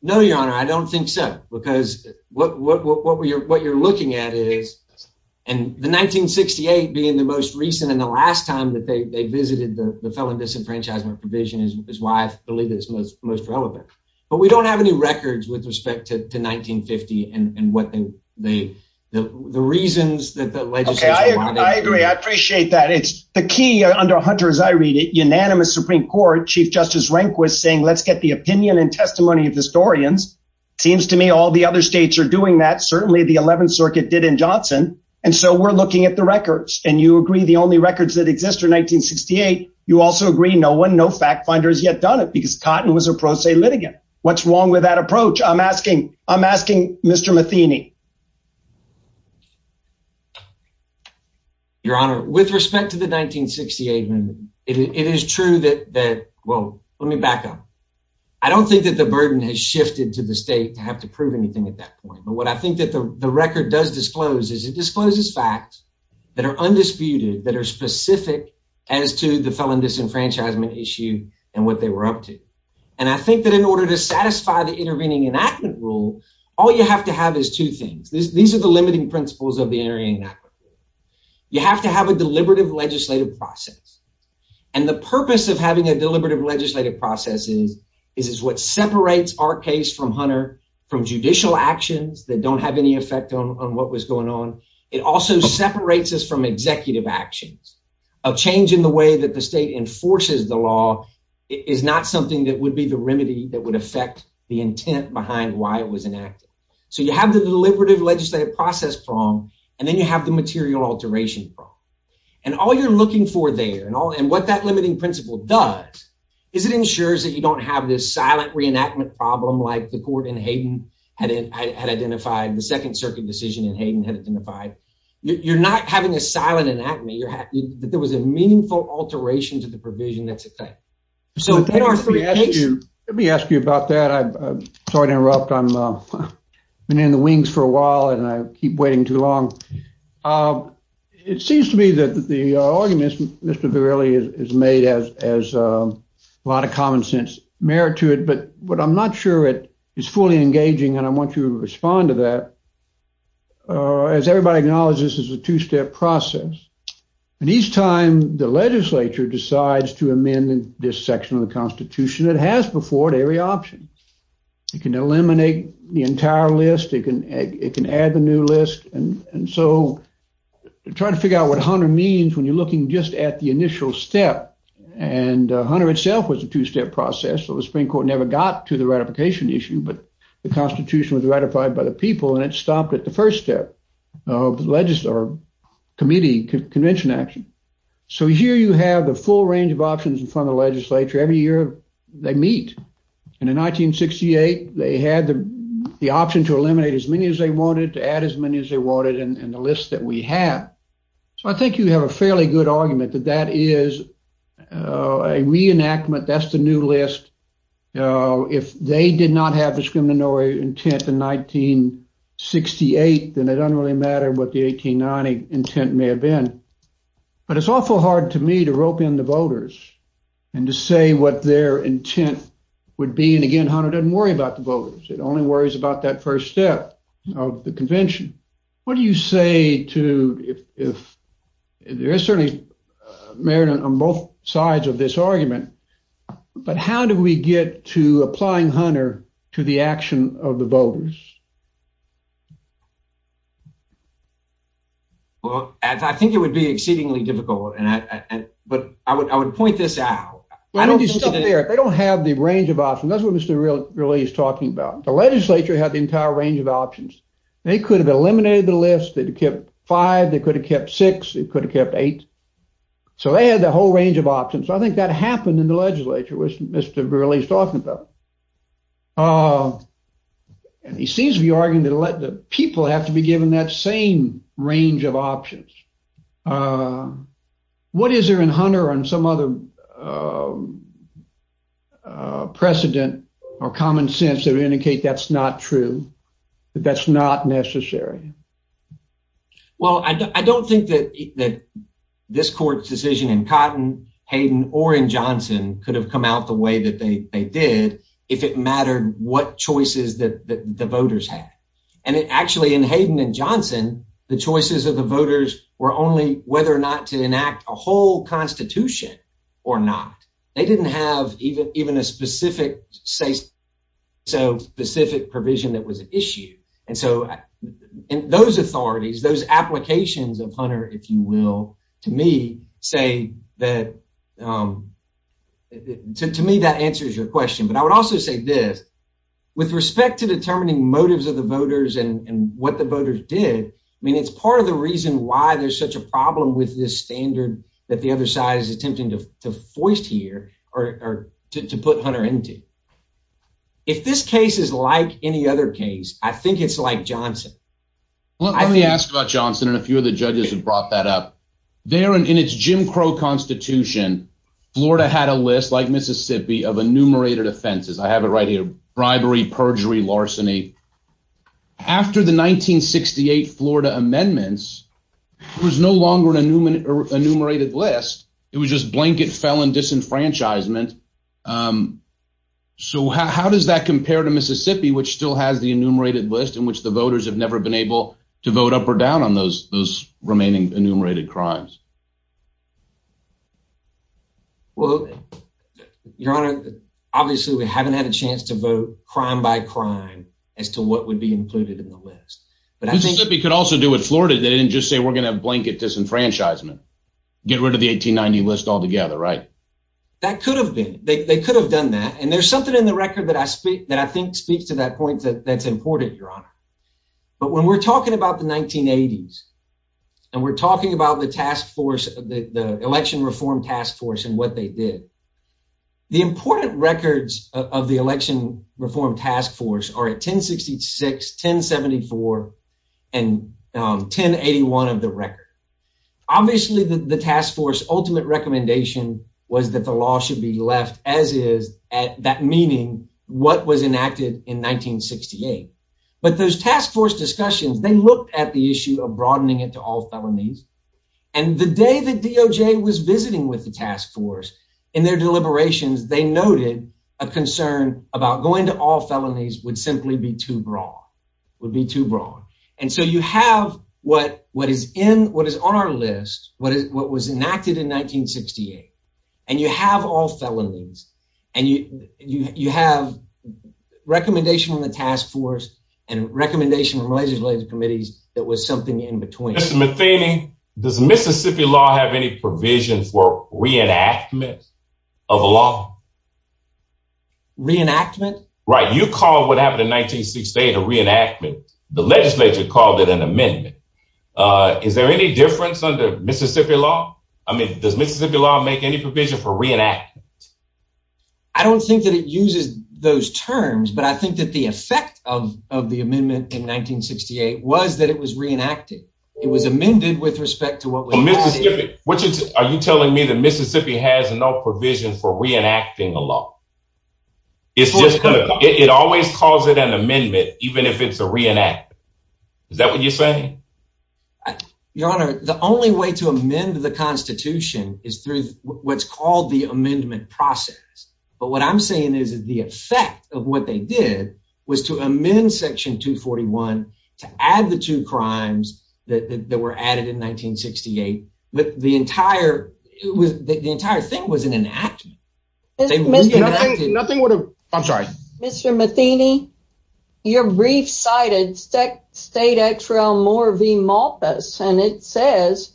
No, Your Honor, I don't think so. Because what you're looking at is, and the 1968 being the most recent and the last time that they visited the felon disenfranchisement provision is why I believe it's most relevant. But we don't have any records with respect to 1950. And what they, the reasons that the legislature wanted. I agree. I appreciate that. It's the key under Hunter's I read it unanimous Supreme Court Chief Justice Rehnquist saying let's get the opinion and testimony of historians. Seems to me all the other states are doing that certainly the 11th Circuit did in Johnson. And so we're looking at the records and you agree the only records that exist are 1968. You also agree no one no fact finders yet done it because Cotton was a pro se litigant. What's that approach? I'm asking, I'm asking Mr Matheny. Your Honor, with respect to the 1968 amendment, it is true that well, let me back up. I don't think that the burden has shifted to the state to have to prove anything at that point. But what I think that the record does disclose is it discloses facts that are undisputed that are specific as to the felon disenfranchisement issue and what they were up to. And I think that in order to satisfy the intervening enactment rule, all you have to have is two things. These are the limiting principles of the area. You have to have a deliberative legislative process. And the purpose of having a deliberative legislative process is is is what separates our case from Hunter from judicial actions that don't have any effect on what was going on. It also separates us from executive actions of change in the way that the state enforces the law is not something that would be the remedy that would affect the intent behind why it was enacted. So you have the deliberative legislative process prong and then you have the material alteration. And all you're looking for there and all and what that limiting principle does is it ensures that you don't have this silent reenactment problem like the court in Hayden had identified the Second Circuit decision in Hayden had identified. You're not having a silent enactment. You're that there was a meaningful alteration to the provision. That's okay. So in our Let me ask you about that. I'm sorry to interrupt. I'm been in the wings for a while and I keep waiting too long. Um, it seems to me that the argument Mr Verrilli is made as as a lot of common sense merit to it. But what I'm not sure it is fully engaging. And I want you to respond to that. Uh, as everybody acknowledges, this is a two step process. And each time the section of the Constitution that has before it every option, you can eliminate the entire list. It can it can add the new list. And so try to figure out what 100 means when you're looking just at the initial step. And 100 itself was a two step process. So the Supreme Court never got to the ratification issue. But the Constitution was ratified by the people and it stopped at the first step of the legislature committee convention action. So here you have the full range of options in front of legislature every year they meet. And in 1968 they had the option to eliminate as many as they wanted to add as many as they wanted in the list that we have. So I think you have a fairly good argument that that is a reenactment. That's the new list. Uh, if they did not have discriminatory intent in 1968, then it doesn't really matter what the 1890 intent may have been. But it's awful hard to me to rope in the voters and to say what their intent would be. And again, Hunter doesn't worry about the voters. It only worries about that first step of the convention. What do you say to if there is certainly merit on both sides of this argument, but how do we get to applying Hunter to the convention? Well, I think it would be exceedingly difficult. But I would point this out. They don't have the range of options. That's what Mr. Burle is talking about. The legislature had the entire range of options. They could have eliminated the list that kept five. They could have kept six. It could have kept eight. So they had the whole range of options. I think that happened in the legislature, which Mr. Burle is talking about. Uh, and he would have to be given that same range of options. Uh, what is there in Hunter and some other, uh, precedent or common sense that indicate that's not true, that that's not necessary? Well, I don't think that that this court's decision in cotton Hayden or in Johnson could have come out the way that they did if it mattered what choices that the voters had. And it actually in Hayden and Johnson, the choices of the voters were only whether or not to enact a whole constitution or not. They didn't have even even a specific say so specific provision that was issued. And so in those authorities, those applications of Hunter, if you will, to me, say that, um, to me, that answers your question. But I would also say this with respect to determining motives of the voters and what the voters did. I mean, it's part of the reason why there's such a problem with this standard that the other side is attempting to foist here or to put Hunter into. If this case is like any other case, I think it's like Johnson. Let me ask about Johnson and a few of the judges have brought that up there in its Jim Crow Constitution. Florida had a list like Mississippi of enumerated offenses. I have it right here. Bribery, perjury, larceny. After the 1968 Florida amendments, it was no longer an enumerated list. It was just blanket felon disenfranchisement. Um, so how does that compare to Mississippi, which still has the enumerated list in which the voters have never been able to vote up or down on those those remaining enumerated crimes? Well, Your Honor, obviously, we haven't had a chance to vote crime by crime as to what would be included in the list. But I think he could also do it. Florida didn't just say we're gonna blanket disenfranchisement. Get rid of the 1890 list altogether, right? That could have been. They could have done that. And there's something in the record that I speak that I think speaks to that point that that's important, Your Honor. But when we're talking about the 1980s and we're talking about the task force, the election reform task force and what they did, the important records of the election reform task force are at 10 66 10 74 and 10 81 of the record. Obviously, the task force ultimate recommendation was that the law should be left as is at that meaning what was enacted in 1968. But those task force discussions, they looked at the issue of felonies. And the day that D. O. J. Was visiting with the task force in their deliberations, they noted a concern about going to all felonies would simply be too broad, would be too broad. And so you have what what is in what is on our list, what was enacted in 1968. And you have all felonies and you you have recommendation on the task force and recommendation from Malaysia's committees. That was something in between. Mr Matheny, does Mississippi law have any provision for reenactment of law reenactment? Right. You call what happened in 1968 a reenactment. The legislature called it an amendment. Uh, is there any difference under Mississippi law? I mean, does Mississippi law make any provision for reenactment? I don't think that it uses those terms, but I think that the it was that it was reenacted. It was amended with respect to what? What are you telling me? The Mississippi has no provision for reenacting the law. It's just it always calls it an amendment, even if it's a reenact. Is that what you're saying? Your Honor, the only way to amend the Constitution is through what's called the amendment process. But what I'm saying is that the effect of what they did was to amend section 2 41 to add the two crimes that were added in 1968. But the entire it was the entire thing was an enactment. Nothing would have. I'm sorry, Mr Matheny, your brief cited state X realm or V Malthus. And it says,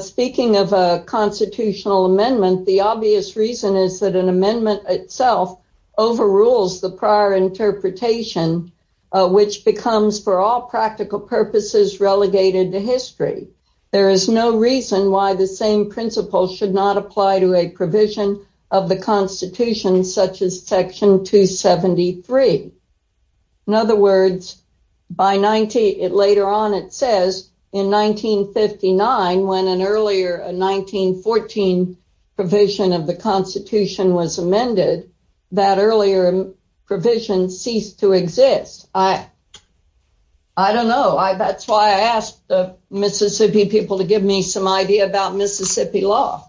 speaking of a constitutional amendment, the obvious reason is that an amendment itself overrules the prior interpretation, which becomes for all practical purposes relegated to history. There is no reason why the same principle should not apply to a provision of the Constitution, such as section 273. In other words, by 90 it later on, it says in 1959, when an earlier 1914 provision of the Constitution was amended, that earlier provision ceased to exist. I I don't know. That's why I asked the Mississippi people to give me some idea about Mississippi law.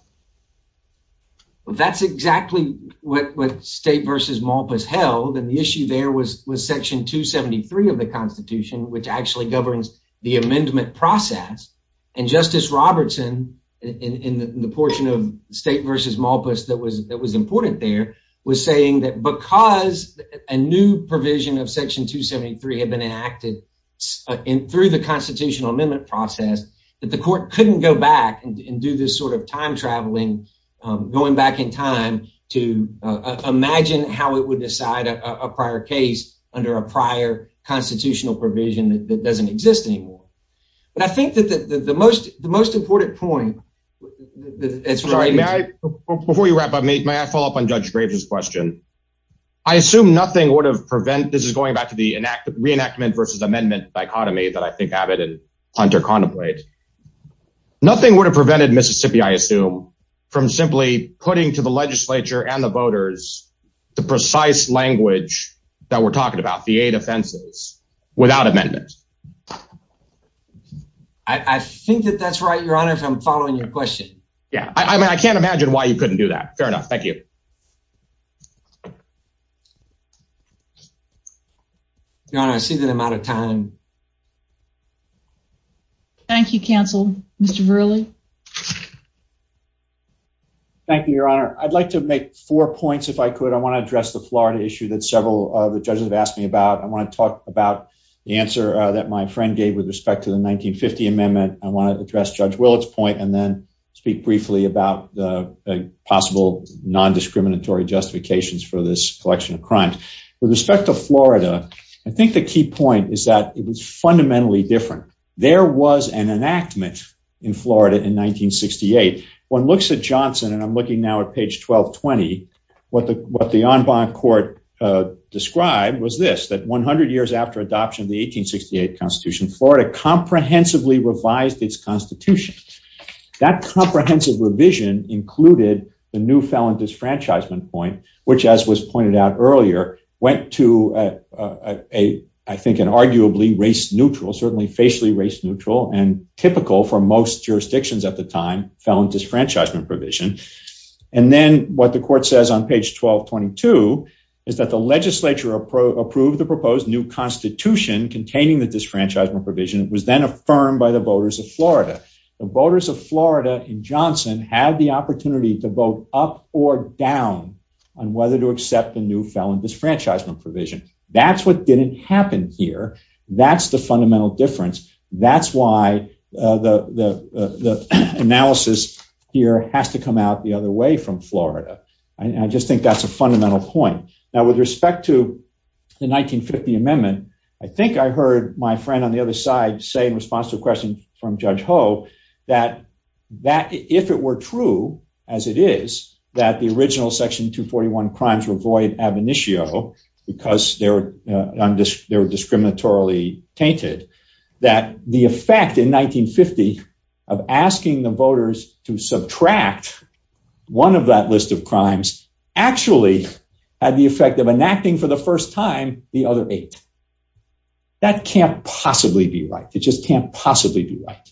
That's exactly what state versus Malthus held. And the issue there was with section 273 of the Constitution, which actually governs the amendment process. And Justice Robertson in the portion of state versus Malthus that was that was important there was saying that because a new provision of section 2 73 have been enacted in through the constitutional amendment process that the court couldn't go back and do this sort of time traveling, going back in time to imagine how it would decide a prior case under a prior constitutional provision that doesn't exist anymore. But I think that the most the most important point that it's right before you wrap up, may I follow up on Judge Graves's question? I assume nothing would have prevent this is going back to the enact reenactment versus amendment dichotomy that I think Abbott and Hunter contemplate. Nothing would have prevented Mississippi, I assume, from simply putting to the legislature and the voters, the precise language that we're talking about the eight offenses without amendment. I think that that's right, Your Honor, if I'm following your question. Yeah, I mean, I can't imagine why you couldn't do that. Fair enough. Thank you. Your Honor, I see that I'm out of time. Thank you, counsel. Mr Verrilli. Thank you, Your Honor. I'd like to make four points if I could. I want to address the Florida issue that several of the judges have asked me about. I want to talk about the answer that my friend gave with respect to the 1950 amendment. I want to address Judge Willett's point and then speak briefly about the possible non discriminatory justifications for this collection of crimes. With respect to Florida, I think the key point is that it was fundamentally different. There was an enactment in Florida in 1968. One looks at Johnson, and I'm looking now at page 12 20. What the what the en banc court described was this that 100 years after adoption of the 18 68 Constitution, Florida comprehensively revised its constitution. That comprehensive revision included the new felon disfranchisement point, which, as was pointed out earlier, went to a I think an arguably race neutral, certainly facially race neutral and typical for most jurisdictions at the time felon disfranchisement provision. And then what the court says on page 12 22 is that the Legislature approved the proposed new constitution containing the disfranchisement provision was then affirmed by the voters of Florida. The voters of Florida in Johnson had the opportunity to vote up or down on whether to accept the new felon disfranchisement provision. That's what didn't happen here. That's the fundamental difference. That's why the analysis here has to come out the other way from Florida. I just think that's a fundamental point. Now, with respect to the 1950 amendment, I think I heard my friend on the other side say in response to a question from Judge Ho that that if it were true, as it is that the original Section 2 41 crimes were void ab initio because they were they were discriminatorily tainted that the effect in 1950 of asking the voters to subtract one of that list of crimes actually had the effect of enacting for the first time the other eight that can't possibly be right. It just can't possibly be right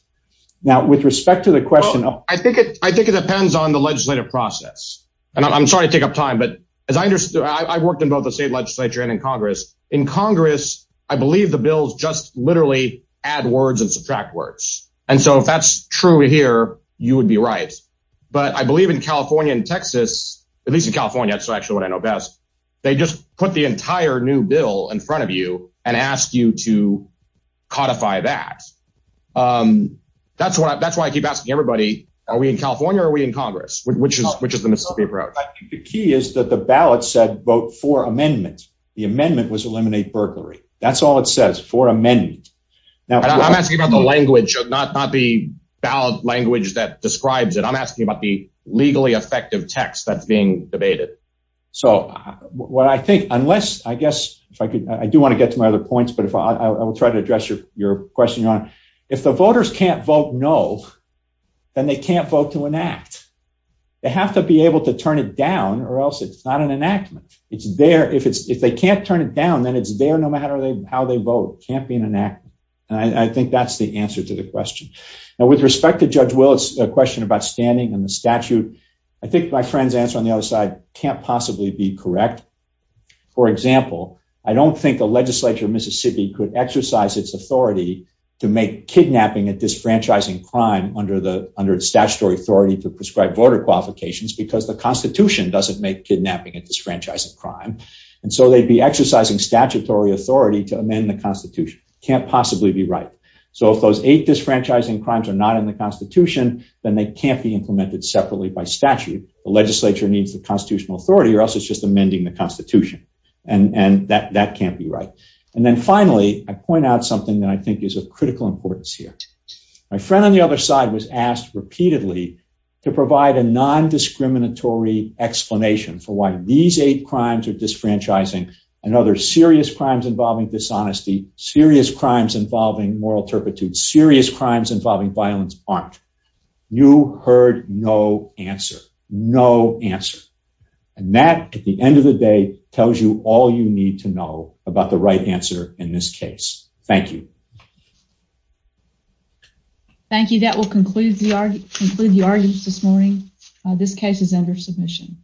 now with respect to the question. I think I think it depends on the legislative process, and I'm sorry to take up time. But as I understood, I've worked in both the state legislature and in Congress. In Congress, I believe the bills just literally add words and subtract words. And so if that's true here, you would be right. But I believe in California and Texas, at least in California, it's actually what I know best. They just put the entire new bill in front of you and ask you to codify that. That's what that's why I keep asking everybody. Are we in California? Are we in Congress? Which is which is the Mississippi road? The key is that the ballot said vote for amendments. The amendment was eliminate burglary. That's all it says for a minute. Now I'm asking about the language, not not the ballot language that describes it. I'm asking about the legally effective text that's being debated. So what I think unless I guess if I could, I do want to get to my other points. But if I will try to address your your question on if the voters can't vote no, then they can't vote to enact. They have to be able to turn it down or else it's not an enactment. It's there. If it's if they can't turn it down, then it's there. No matter how they vote, can't be an enact. I think that's the answer to the question. Now, with respect to Judge Willis, a question about standing and the statute. I think my friend's answer on the other side can't possibly be correct. For example, I don't think the Legislature of Mississippi could exercise its authority to make kidnapping and disfranchising crime under the under statutory authority to prescribe voter qualifications because the Constitution doesn't make kidnapping and disfranchising crime. And so they'd be exercising statutory authority to amend the Constitution can't possibly be right. So if those eight disfranchising crimes are not in the Constitution, then they can't be implemented separately by statute. The Legislature needs the constitutional authority or else it's just amending the Constitution. And and that that can't be right. And then finally, I point out something that I think is of critical importance here. My friend on the other side was asked repeatedly to provide a non discriminatory explanation for why these eight crimes or disfranchising and other serious crimes involving dishonesty, serious crimes involving moral turpitude, serious crimes involving violence aren't. You heard no answer. No answer. And that, at the end of the day, tells you all you need to know about the right answer in this case. Thank you. Thank you. That will conclude the argue conclude the arguments this morning. This case is under submission.